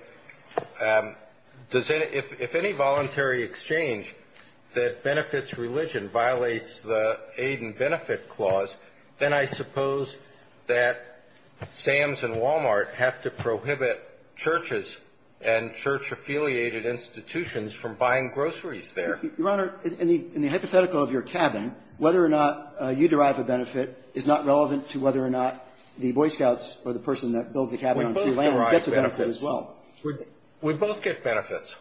Does any – if any voluntary exchange that benefits religion violates the aid and benefit clause, then I suppose that Sam's and Wal-Mart have to prohibit churches and church-affiliated institutions from buying groceries there. Your Honor, in the hypothetical of your cabin, whether or not you derive a benefit is not relevant to whether or not the Boy Scouts or the person that builds the cabin on free land gets a benefit as well. We both derive benefits. We both get benefits.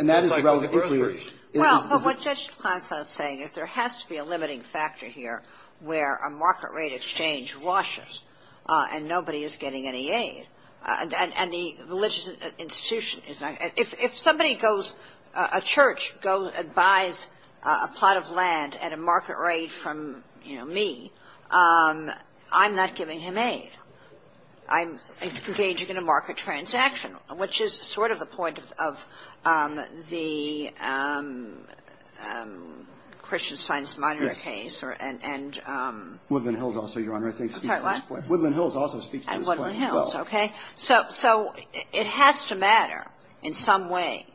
And that is relevant. Well, but what Judge Klinefeld is saying is there has to be a limiting factor here where a market rate exchange washes and nobody is getting any aid. And the religious institution is not – if somebody goes – a church buys a plot of land at a market rate from, you know, me, I'm not giving him aid. I'm engaging in a market transaction, which is sort of the point of the Christian Science Monitor case. Yes. And – Woodland Hills also, Your Honor, I think speaks to this point. I'm sorry, what? Woodland Hills also speaks to this point as well. And Woodland Hills, okay. So it has to matter in some way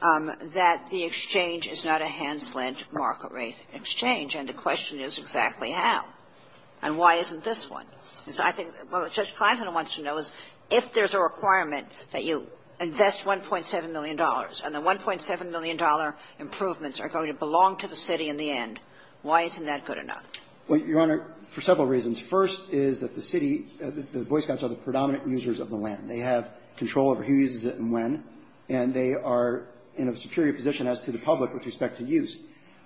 that the exchange is not a hands-lent market rate exchange. And the question is exactly how. And why isn't this one? And so I think what Judge Klinefeld wants to know is if there's a requirement that you invest $1.7 million and the $1.7 million improvements are going to belong to the city in the end, why isn't that good enough? Well, Your Honor, for several reasons. First is that the city – the Boy Scouts are the predominant users of the land. They have control over who uses it and when. And they are in a superior position as to the public with respect to use.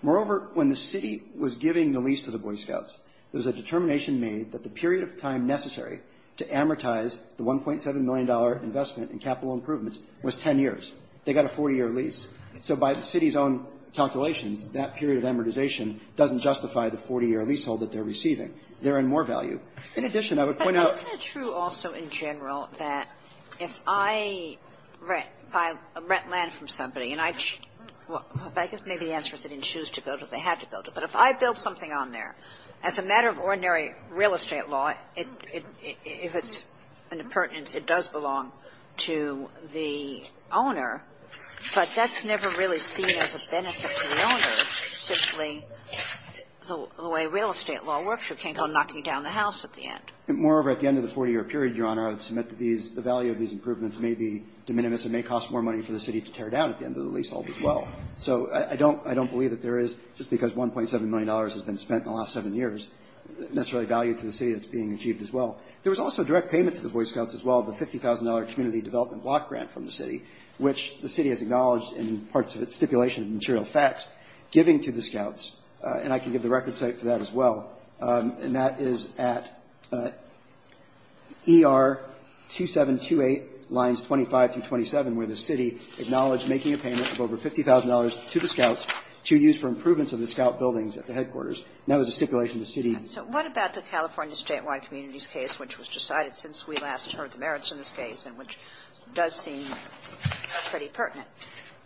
Moreover, when the city was giving the lease to the Boy Scouts, there was a determination made that the period of time necessary to amortize the $1.7 million investment in capital improvements was 10 years. They got a 40-year lease. So by the city's own calculations, that period of amortization doesn't justify the 40-year leasehold that they're receiving. They're in more value. In addition, I would point out – But isn't it true also in general that if I rent – if I rent land from somebody and I – well, I guess maybe the answer is they didn't choose to build it. They had to build it. But if I build something on there, as a matter of ordinary real estate law, if it's in a pertinence, it does belong to the owner, but that's never really seen as a benefit to the owner. It's simply the way real estate law works. You can't go knocking down the house at the end. Moreover, at the end of the 40-year period, Your Honor, I would submit that these – the value of these improvements may be de minimis and may cost more money for the city to tear down at the end of the leasehold as well. So I don't – I don't believe that there is, just because $1.7 million has been spent in the last seven years, necessarily value to the city that's being achieved as well. There was also a direct payment to the Boy Scouts as well, the $50,000 community development block grant from the city, which the city has acknowledged in parts of its stipulation and material facts, giving to the Scouts. And I can give the record site for that as well. And that is at ER 2728 lines 25 through 27, where the city acknowledged making a payment of over $50,000 to the Scouts to use for improvements of the Scout buildings at the headquarters. And that was a stipulation of the city. So what about the California statewide communities case, which was decided since we last heard the merits in this case and which does seem pretty pertinent?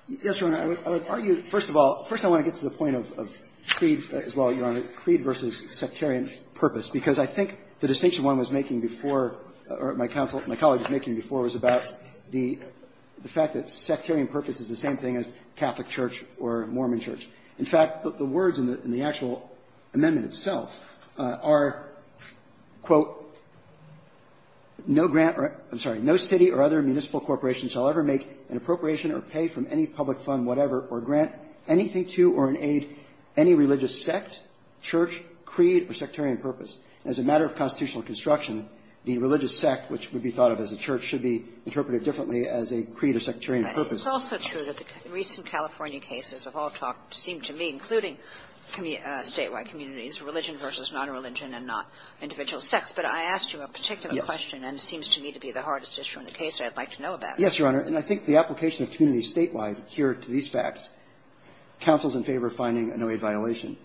Yes, Your Honor. I would argue, first of all, first I want to get to the point of creed as well, Your Honor, creed versus sectarian purpose, because I think the distinction one was making before, or my colleague was making before, was about the fact that sectarian purpose is the same thing as Catholic church or Mormon church. In fact, the words in the actual amendment itself are, quote, no grant or no city or other municipal corporation shall ever make an appropriation or pay from any public fund whatever or grant anything to or in aid any religious sect, church, creed, or sectarian purpose. As a matter of constitutional construction, the religious sect, which would be thought of as a church, should be interpreted differently as a creed or sectarian purpose. It's also true that the recent California cases have all talked, it seems to me, including statewide communities, religion versus nonreligion and not individual sects. But I asked you a particular question and it seems to me to be the hardest issue in the case that I would like to know about. Yes, Your Honor. And I think the application of community statewide here to these facts counsels in favor of finding a no-aid violation.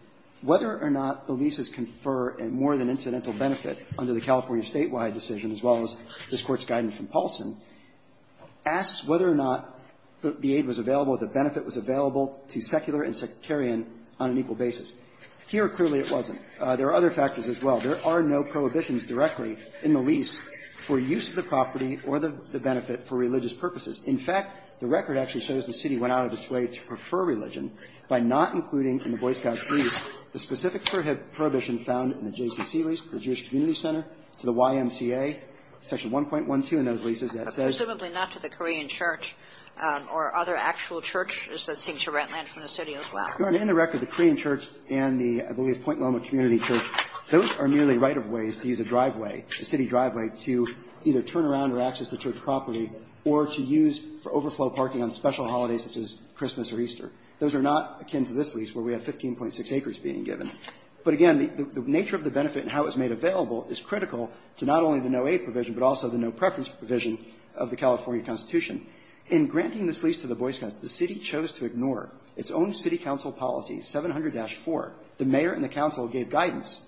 Whether or not the leases confer more than incidental benefit under the California community statewide decision, as well as this Court's guidance from Paulson, asks whether or not the aid was available, the benefit was available to secular and sectarian on an equal basis. Here, clearly it wasn't. There are other factors as well. There are no prohibitions directly in the lease for use of the property or the benefit for religious purposes. In fact, the record actually shows the city went out of its way to prefer religion by not including in the Boy Scouts lease the specific prohibition found in the JCCC to the YMCA, section 1.12 in those leases that says. Presumably not to the Korean Church or other actual churches that seem to rent land from the city as well. Your Honor, in the record, the Korean Church and the, I believe, Point Loma Community Church, those are merely right-of-ways to use a driveway, a city driveway, to either turn around or access the church property or to use for overflow parking on special holidays such as Christmas or Easter. Those are not akin to this lease where we have 15.6 acres being given. But, again, the nature of the benefit and how it was made available is critical to not only the no-aid provision, but also the no-preference provision of the California Constitution. In granting this lease to the Boy Scouts, the city chose to ignore its own city council policy, 700-4. The mayor and the council gave guidance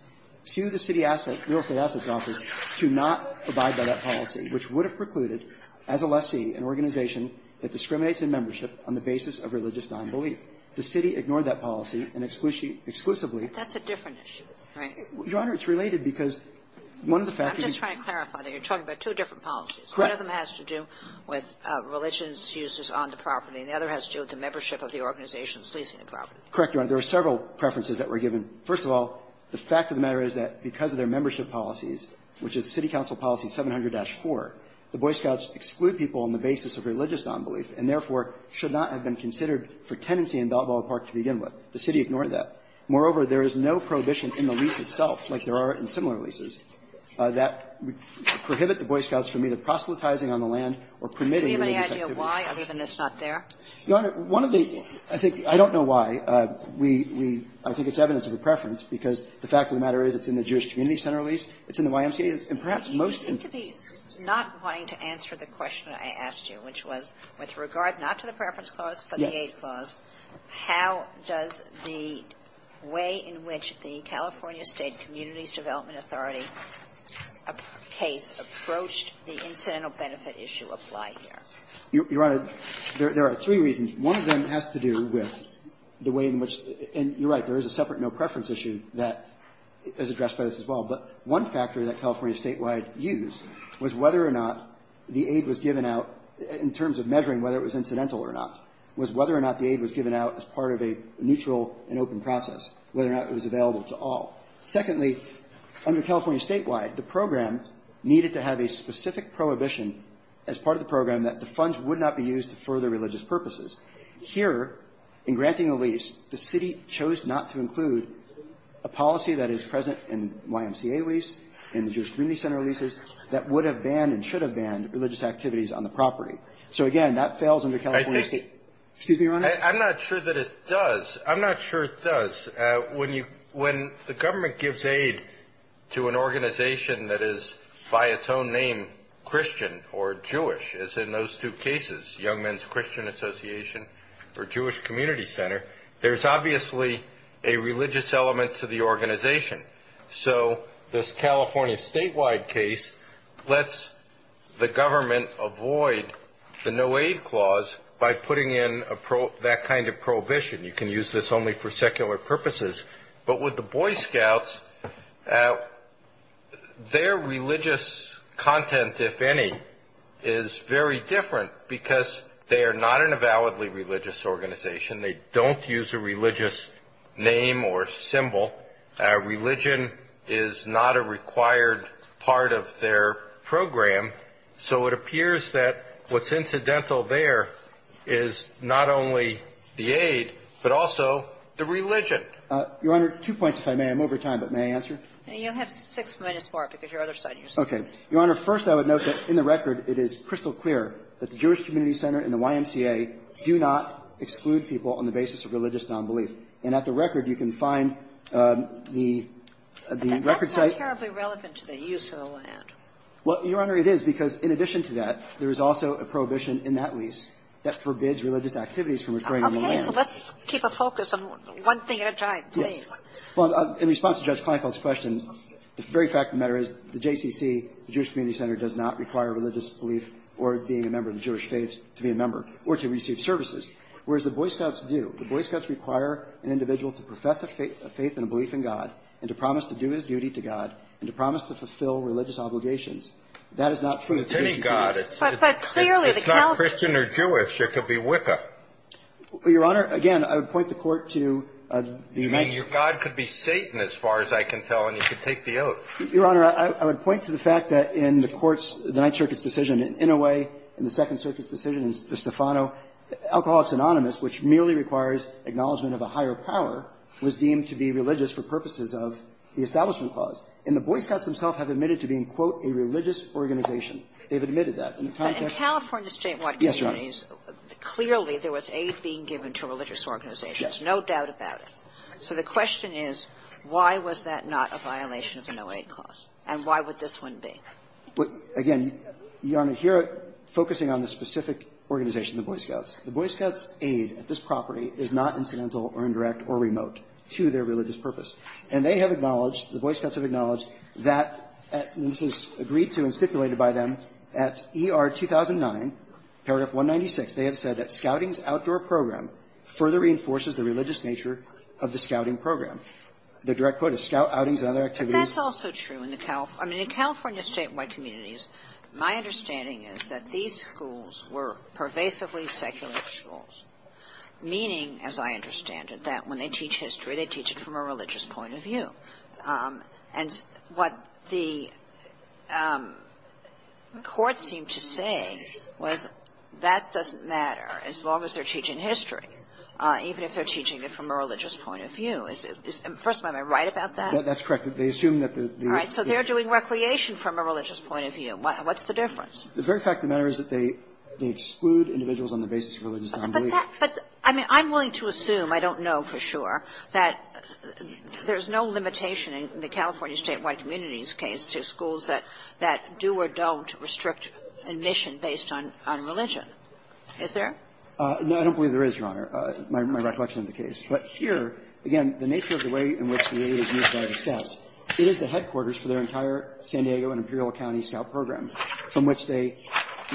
to the city real estate assets office to not abide by that policy, which would have precluded, as a lessee, an organization that discriminates in membership on the basis of religious nonbelief. The city ignored that policy, and exclusively ‑‑ That's a different issue, right? Your Honor, it's related because one of the factors ‑‑ I'm just trying to clarify that you're talking about two different policies. Correct. One of them has to do with religions, uses on the property, and the other has to do with the membership of the organizations leasing the property. Correct, Your Honor. There are several preferences that were given. First of all, the fact of the matter is that because of their membership policies, which is city council policy 700-4, the Boy Scouts exclude people on the basis of religious nonbelief and, therefore, should not have been considered for tenancy in Balboa Park to begin with. The city ignored that. Moreover, there is no prohibition in the lease itself, like there are in similar leases, that prohibit the Boy Scouts from either proselytizing on the land or permitting religious activities. Do you have any idea why, other than it's not there? Your Honor, one of the ‑‑ I think ‑‑ I don't know why. We ‑‑ I think it's evidence of a preference because the fact of the matter is it's in the Jewish Community Center lease, it's in the YMCA, and perhaps most of the ‑‑ With regard not to the preference clause, but the aid clause, how does the way in which the California State Communities Development Authority case approached the incidental benefit issue apply here? Your Honor, there are three reasons. One of them has to do with the way in which ‑‑ and you're right, there is a separate no preference issue that is addressed by this as well. But one factor that California Statewide used was whether or not the aid was given out in terms of measuring whether it was incidental or not, was whether or not the aid was given out as part of a neutral and open process, whether or not it was available to all. Secondly, under California Statewide, the program needed to have a specific prohibition as part of the program that the funds would not be used for other religious purposes. Here, in granting a lease, the city chose not to include a policy that is present in YMCA lease, in the Jewish Community Center leases, that would have banned and should So, again, that fails under California State ‑‑ Excuse me, Your Honor. I'm not sure that it does. I'm not sure it does. When you ‑‑ when the government gives aid to an organization that is, by its own name, Christian or Jewish, as in those two cases, Young Men's Christian Association or Jewish Community Center, there's obviously a religious element to the organization. So, this California Statewide case lets the government avoid the no aid clause by putting in that kind of prohibition. You can use this only for secular purposes. But with the Boy Scouts, their religious content, if any, is very different because they are not an avowedly religious organization. They don't use a religious name or symbol. Religion is not a required part of their program. So, it appears that what's incidental there is not only the aid, but also the religion. Your Honor, two points, if I may. I'm over time, but may I answer? You have six minutes, Mark, because your other side used up. Okay. Your Honor, first, I would note that, in the record, it is crystal clear that the Jewish community center does not include people on the basis of religious nonbelief. And at the record, you can find the record site. That's not terribly relevant to the use of the land. Well, Your Honor, it is, because in addition to that, there is also a prohibition in that lease that forbids religious activities from occurring on the land. Okay. So, let's keep a focus on one thing at a time, please. Yes. Well, in response to Judge Kleinfeld's question, the very fact of the matter is the JCC, the Jewish Community Center, does not require religious belief or being a member of the Jewish faith to be a member or to receive services. Whereas the Boy Scouts do. The Boy Scouts require an individual to profess a faith and a belief in God and to promise to do his duty to God and to promise to fulfill religious obligations. That is not true of the JCC. It's any God. It's not Christian or Jewish. It could be Wicca. Your Honor, again, I would point the Court to the United States. I mean, your God could be Satan, as far as I can tell, and you could take the oath. Your Honor, I would point to the fact that in the Court's, the Ninth Circuit's decision in Inouye, in the Second Circuit's decision in Stefano, alcoholics anonymous, which merely requires acknowledgment of a higher power, was deemed to be religious for purposes of the Establishment Clause. And the Boy Scouts themselves have admitted to being, quote, a religious organization. They've admitted that. In the context of the State of California communities, clearly there was aid being given to religious organizations. Yes. No doubt about it. So the question is, why was that not a violation of the No Aid Clause, and why would this one be? But, again, your Honor, here, focusing on the specific organization, the Boy Scouts, the Boy Scouts' aid at this property is not incidental or indirect or remote to their religious purpose. And they have acknowledged, the Boy Scouts have acknowledged that, and this is agreed to and stipulated by them at ER 2009, paragraph 196, they have said that scouting's outdoor program further reinforces the religious nature of the scouting program. The direct quote is, scout outings and other activities. But that's also true in the Cal – I mean, in California statewide communities, my understanding is that these schools were pervasively secular schools, meaning, as I understand it, that when they teach history, they teach it from a religious point of view. And what the court seemed to say was that doesn't matter, as long as they're teaching history, even if they're teaching it from a religious point of view. First of all, am I right about that? That's correct. They assume that the – All right. So they're doing recreation from a religious point of view. What's the difference? The very fact of the matter is that they exclude individuals on the basis of religious nonbelief. But that – but, I mean, I'm willing to assume, I don't know for sure, that there's no limitation in the California statewide communities case to schools that do or don't restrict admission based on religion. Is there? No, I don't believe there is, Your Honor, my recollection of the case. But here, again, the nature of the way in which the aid is used by the scouts, it is the headquarters for their entire San Diego and Imperial County Scout Program, from which they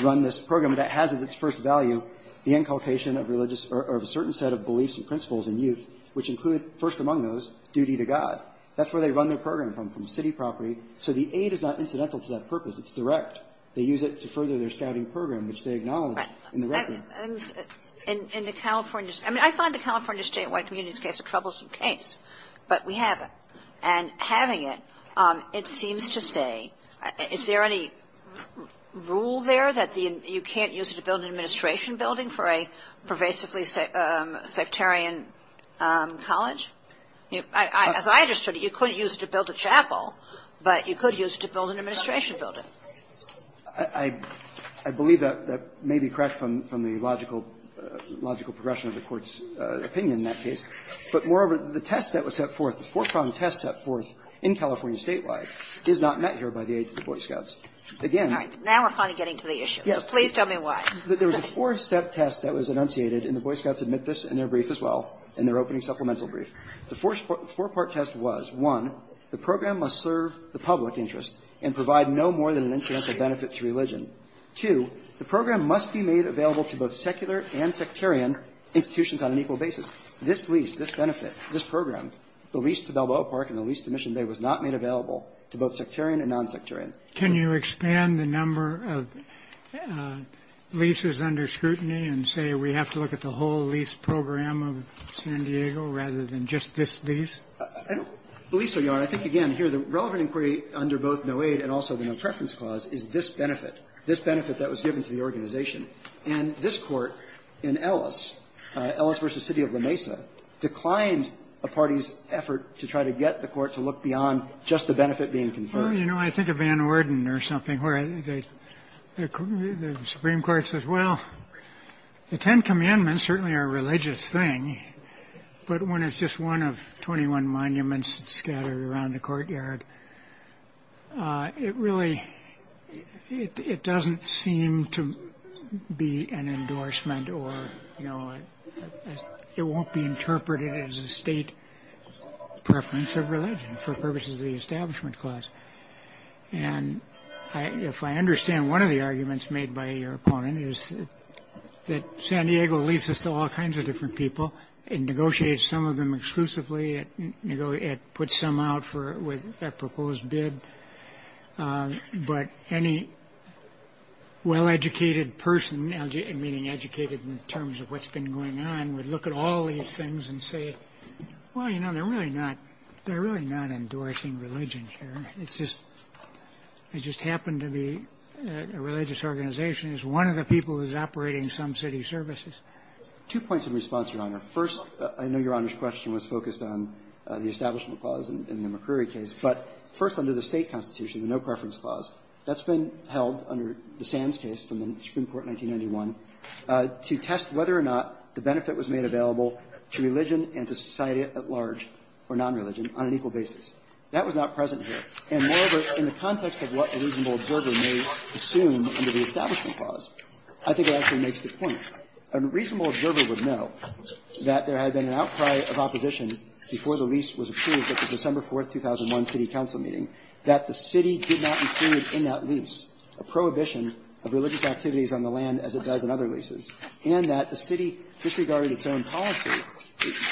run this program. And it has as its first value the inculcation of religious – or of a certain set of beliefs and principles in youth, which include, first among those, duty to God. That's where they run their program from, from city property. So the aid is not incidental to that purpose. It's direct. They use it to further their scouting program, which they acknowledge in the record. And in the California – I mean, I find the California statewide communities case a troublesome case, but we have it. And having it, it seems to say – is there any rule there that the – you can't use it to build an administration building for a pervasively sectarian college? As I understood it, you couldn't use it to build a chapel, but you could use it to build an administration building. I believe that may be correct from the logical progression of the Court's opinion in that case. But moreover, the test that was set forth, the four-prong test set forth in California statewide is not met here by the aid to the Boy Scouts. Again – Now we're finally getting to the issue. Please tell me why. There was a four-step test that was enunciated, and the Boy Scouts admit this in their brief as well, in their opening supplemental brief. The four-part test was, one, the program must serve the public interest and provide no more than an incidental benefit to religion. Two, the program must be made available to both secular and sectarian institutions on an equal basis. This lease, this benefit, this program, the lease to Balboa Park and the lease to Mission Bay was not made available to both sectarian and nonsectarian. Can you expand the number of leases under scrutiny and say we have to look at the whole lease program of San Diego rather than just this lease? I don't believe so, Your Honor. But I think, again, here the relevant inquiry under both no aid and also the no preference clause is this benefit. This benefit that was given to the organization. And this Court in Ellis, Ellis v. City of La Mesa, declined a party's effort to try to get the Court to look beyond just the benefit being conferred. Well, you know, I think of Van Orden or something, where the Supreme Court says, well, the Ten Commandments certainly are a religious thing, but when it's just one of 21 monuments scattered around the courtyard, it really, it doesn't seem to be an endorsement or, you know, it won't be interpreted as a state preference of religion for purposes of the establishment clause. And if I understand one of the arguments made by your opponent is that San Diego leases to all kinds of different people and negotiates some of them exclusively, it puts some out with a proposed bid. But any well-educated person, meaning educated in terms of what's been going on, would look at all these things and say, well, you know, they're really not endorsing religion here. It just happened to be a religious organization. Is one of the people who's operating some city services? Two points of response, Your Honor. First, I know Your Honor's question was focused on the establishment clause in the McCrory case. But first, under the State constitution, the no-preference clause, that's been held under the Sands case from the Supreme Court in 1991 to test whether or not the benefit was made available to religion and to society at large, or non-religion, on an equal basis. That was not present here. And moreover, in the context of what a reasonable observer may assume under the establishment clause, I think it actually makes the point. A reasonable observer would know that there had been an outcry of opposition before the lease was approved at the December 4, 2001, city council meeting, that the city did not include in that lease a prohibition of religious activities on the land as it does in other leases, and that the city disregarded its own policy.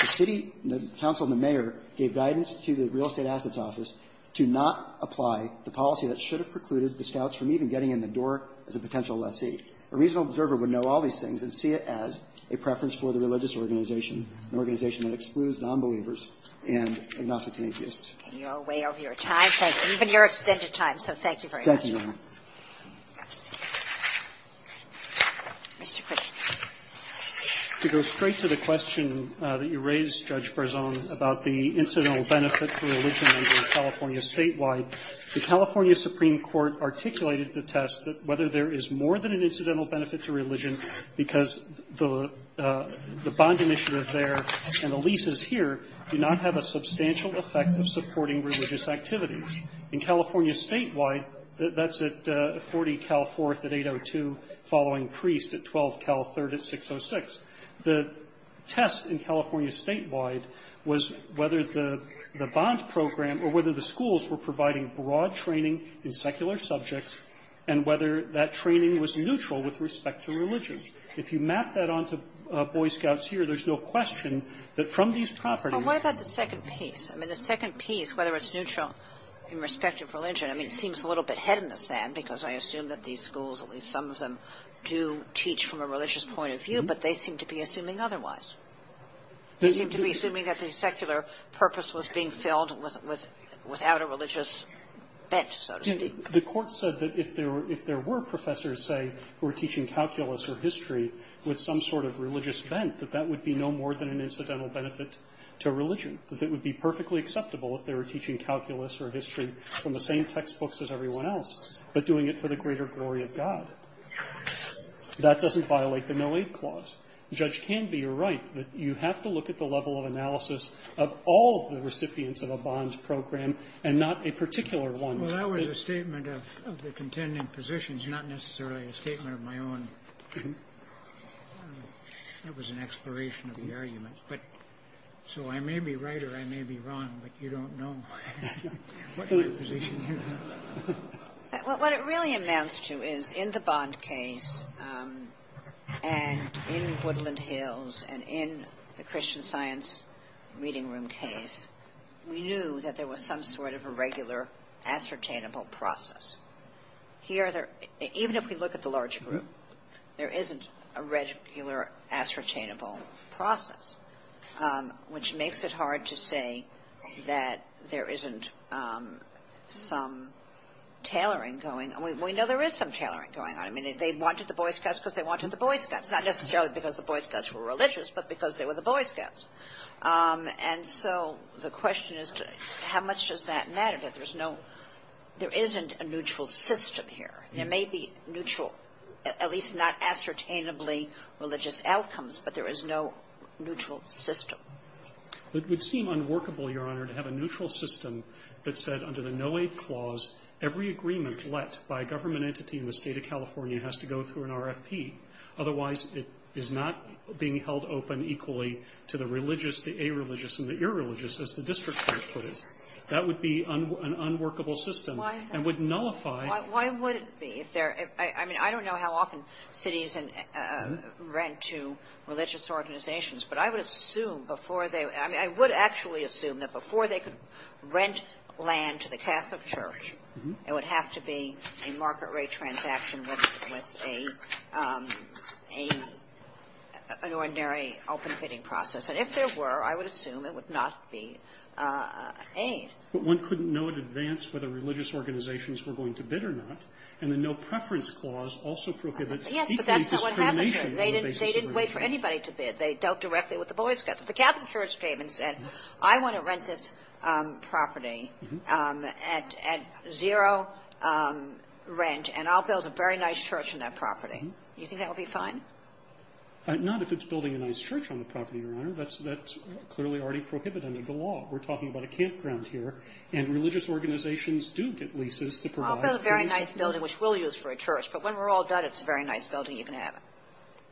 The city, the council, and the mayor gave guidance to the Real Estate Assets Office to not apply the policy that should have precluded the scouts from even getting in the door as a potential lessee. A reasonable observer would know all these things and see it as a preference for the religious organization, an organization that excludes nonbelievers and agnostics and atheists. Kagan. You're way over your time, and even your extended time, so thank you very much. Thank you, Your Honor. To go straight to the question that you raised, Judge Barzon, about the incidental benefit to religion in California statewide, the California Supreme Court articulated the test that whether there is more than an incidental benefit to religion because the bond initiative there and the leases here do not have a substantial effect of supporting religious activities. In California statewide, that's at 40-Cal-4th at 802, following priest at 12-Cal-3rd at 606. The test in California statewide was whether the bond program, or whether the schools were providing broad training in secular subjects, and whether that training was neutral with respect to religion. If you map that onto Boy Scouts here, there's no question that from these properties that there is more than an incidental benefit to religion. Kagan. Well, what about the second piece? I mean, the second piece, whether it's neutral in respect of religion, I mean, seems a little bit head in the sand, because I assume that these schools, at least some of them, do teach from a religious point of view, but they seem to be assuming otherwise. They seem to be assuming that the secular purpose was being filled without a religious bent, so to speak. The Court said that if there were professors, say, who were teaching calculus or history with some sort of religious bent, that that would be no more than an incidental benefit to religion, that it would be perfectly acceptable if they were teaching calculus or history from the same textbooks as everyone else, but doing it for the greater glory of God. That doesn't violate the no-aid clause. The judge can be right that you have to look at the level of analysis of all the recipients of a bond program and not a particular one. Well, that was a statement of the contending positions, not necessarily a statement of my own. That was an exploration of the argument. So I may be right or I may be wrong, but you don't know what my position is. What it really amounts to is, in the Bond case and in Woodland Hills and in the Christian Science Reading Room case, we knew that there was some sort of a regular ascertainable process. Here, even if we look at the large group, there isn't a regular ascertainable process, which makes it hard to say that there isn't some tailoring going. We know there is some tailoring going on. I mean, they wanted the Boy Scouts because they wanted the Boy Scouts, not necessarily because the Boy Scouts were religious, but because they were the Boy Scouts. And so the question is, how much does that matter that there's no — there isn't a neutral system here? There may be neutral, at least not ascertainably, religious outcomes, but there is no neutral system. It would seem unworkable, Your Honor, to have a neutral system that said, under the no-aid clause, every agreement let by a government entity in the State of California has to go through an RFP. Otherwise, it is not being held open equally to the religious, the areligious and the irreligious, as the district court put it. That would be an unworkable system. And would nullify — Why would it be? I mean, I don't know how often cities rent to religious organizations, but I would assume before they — I mean, I would actually assume that before they could rent land to the Catholic Church, it would have to be a market rate transaction with a — an ordinary open bidding process. And if there were, I would assume it would not be aid. But one couldn't know in advance whether religious organizations were going to bid or not. And the no-preference clause also prohibits equally discrimination. Yes, but that's not what happened here. They didn't wait for anybody to bid. They dealt directly with the Boy Scouts. The Catholic Church came and said, I want to rent this property at zero rent, and I'll build a very nice church on that property. Do you think that would be fine? Not if it's building a nice church on the property, Your Honor. That's clearly already prohibited under the law. We're talking about a campground here, and religious organizations do get leases to provide — I'll build a very nice building, which we'll use for a church. But when we're all done, it's a very nice building. You can have it.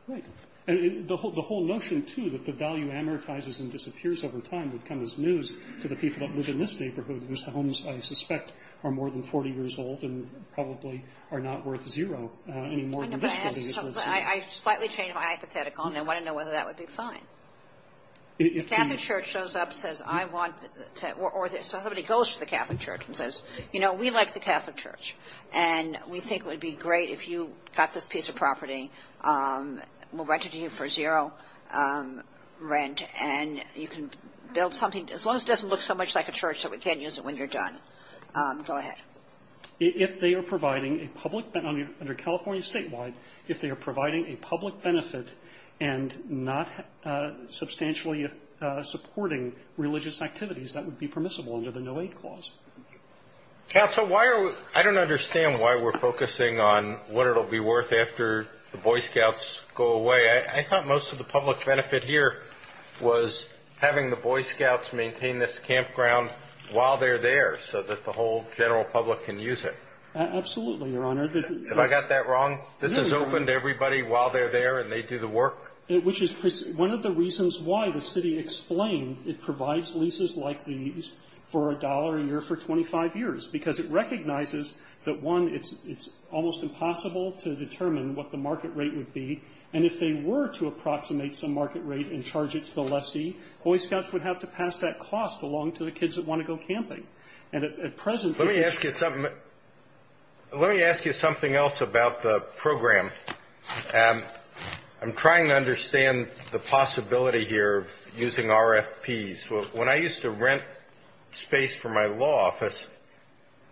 Right. And the whole notion, too, that the value amortizes and disappears over time would come as news to the people that live in this neighborhood, whose homes, I suspect, are more than 40 years old and probably are not worth zero any more than this building is worth zero. I slightly changed my hypothetical, and I want to know whether that would be fine. If the Catholic Church shows up and says, I want to — or somebody goes to the Catholic Church and says, you know, we like the Catholic Church, and we think it would be great if you got this piece of property, we'll rent it to you for zero rent, and you can build something as long as it doesn't look so much like a church that we can't use it when you're done. Go ahead. If they are providing a public — under California statewide, if they are providing a public benefit and not substantially supporting religious activities, that would be permissible under the no-aid clause. Counsel, why are — I don't understand why we're focusing on what it will be worth after the Boy Scouts go away. I thought most of the public benefit here was having the Boy Scouts maintain this campground while they're there so that the whole general public can use it. Absolutely, Your Honor. Have I got that wrong? This is open to everybody while they're there and they do the work. Which is one of the reasons why the city explained It provides leases like these for $1 a year for 25 years because it recognizes that, one, it's almost impossible to determine what the market rate would be, and if they were to approximate some market rate and charge it to the lessee, Boy Scouts would have to pass that cost along to the kids that want to go camping. And at present — Let me ask you something else about the program. I'm trying to understand the possibility here of using RFPs. When I used to rent space for my law office,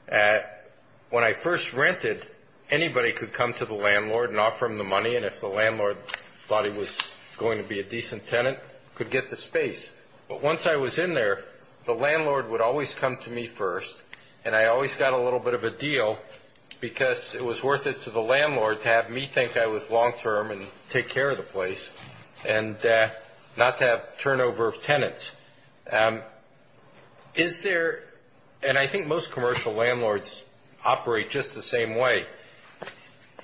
when I first rented, anybody could come to the landlord and offer him the money, and if the landlord thought he was going to be a decent tenant, could get the space. But once I was in there, the landlord would always come to me first, and I always got a little bit of a deal because it was worth it to the landlord to have me think I was long-term and take care of the place and not to have turnover of tenants. Is there — and I think most commercial landlords operate just the same way.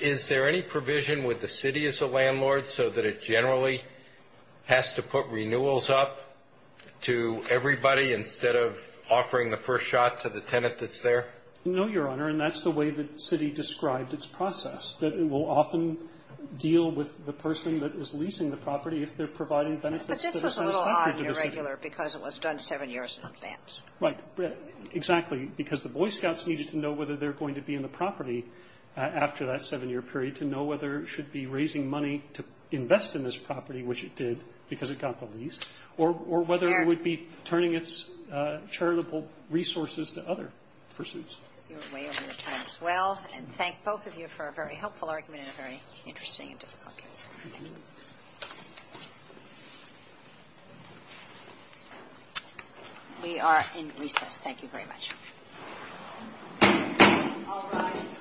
Is there any provision with the city as a landlord so that it generally has to put renewals up to everybody instead of offering the first shot to the tenant that's there? No, Your Honor. And that's the way the city described its process, that it will often deal with the person that is leasing the property if they're providing benefits. But this was a little odd and irregular because it was done seven years in advance. Right. Exactly. Because the Boy Scouts needed to know whether they're going to be in the property after that seven-year period to know whether it should be raising money to invest in this property, which it did because it got the lease, or whether it would be turning its charitable resources to other pursuits. You're way over your time as well. And thank both of you for a very helpful argument and a very interesting and difficult case. Thank you. We are in recess. Thank you very much. All rise.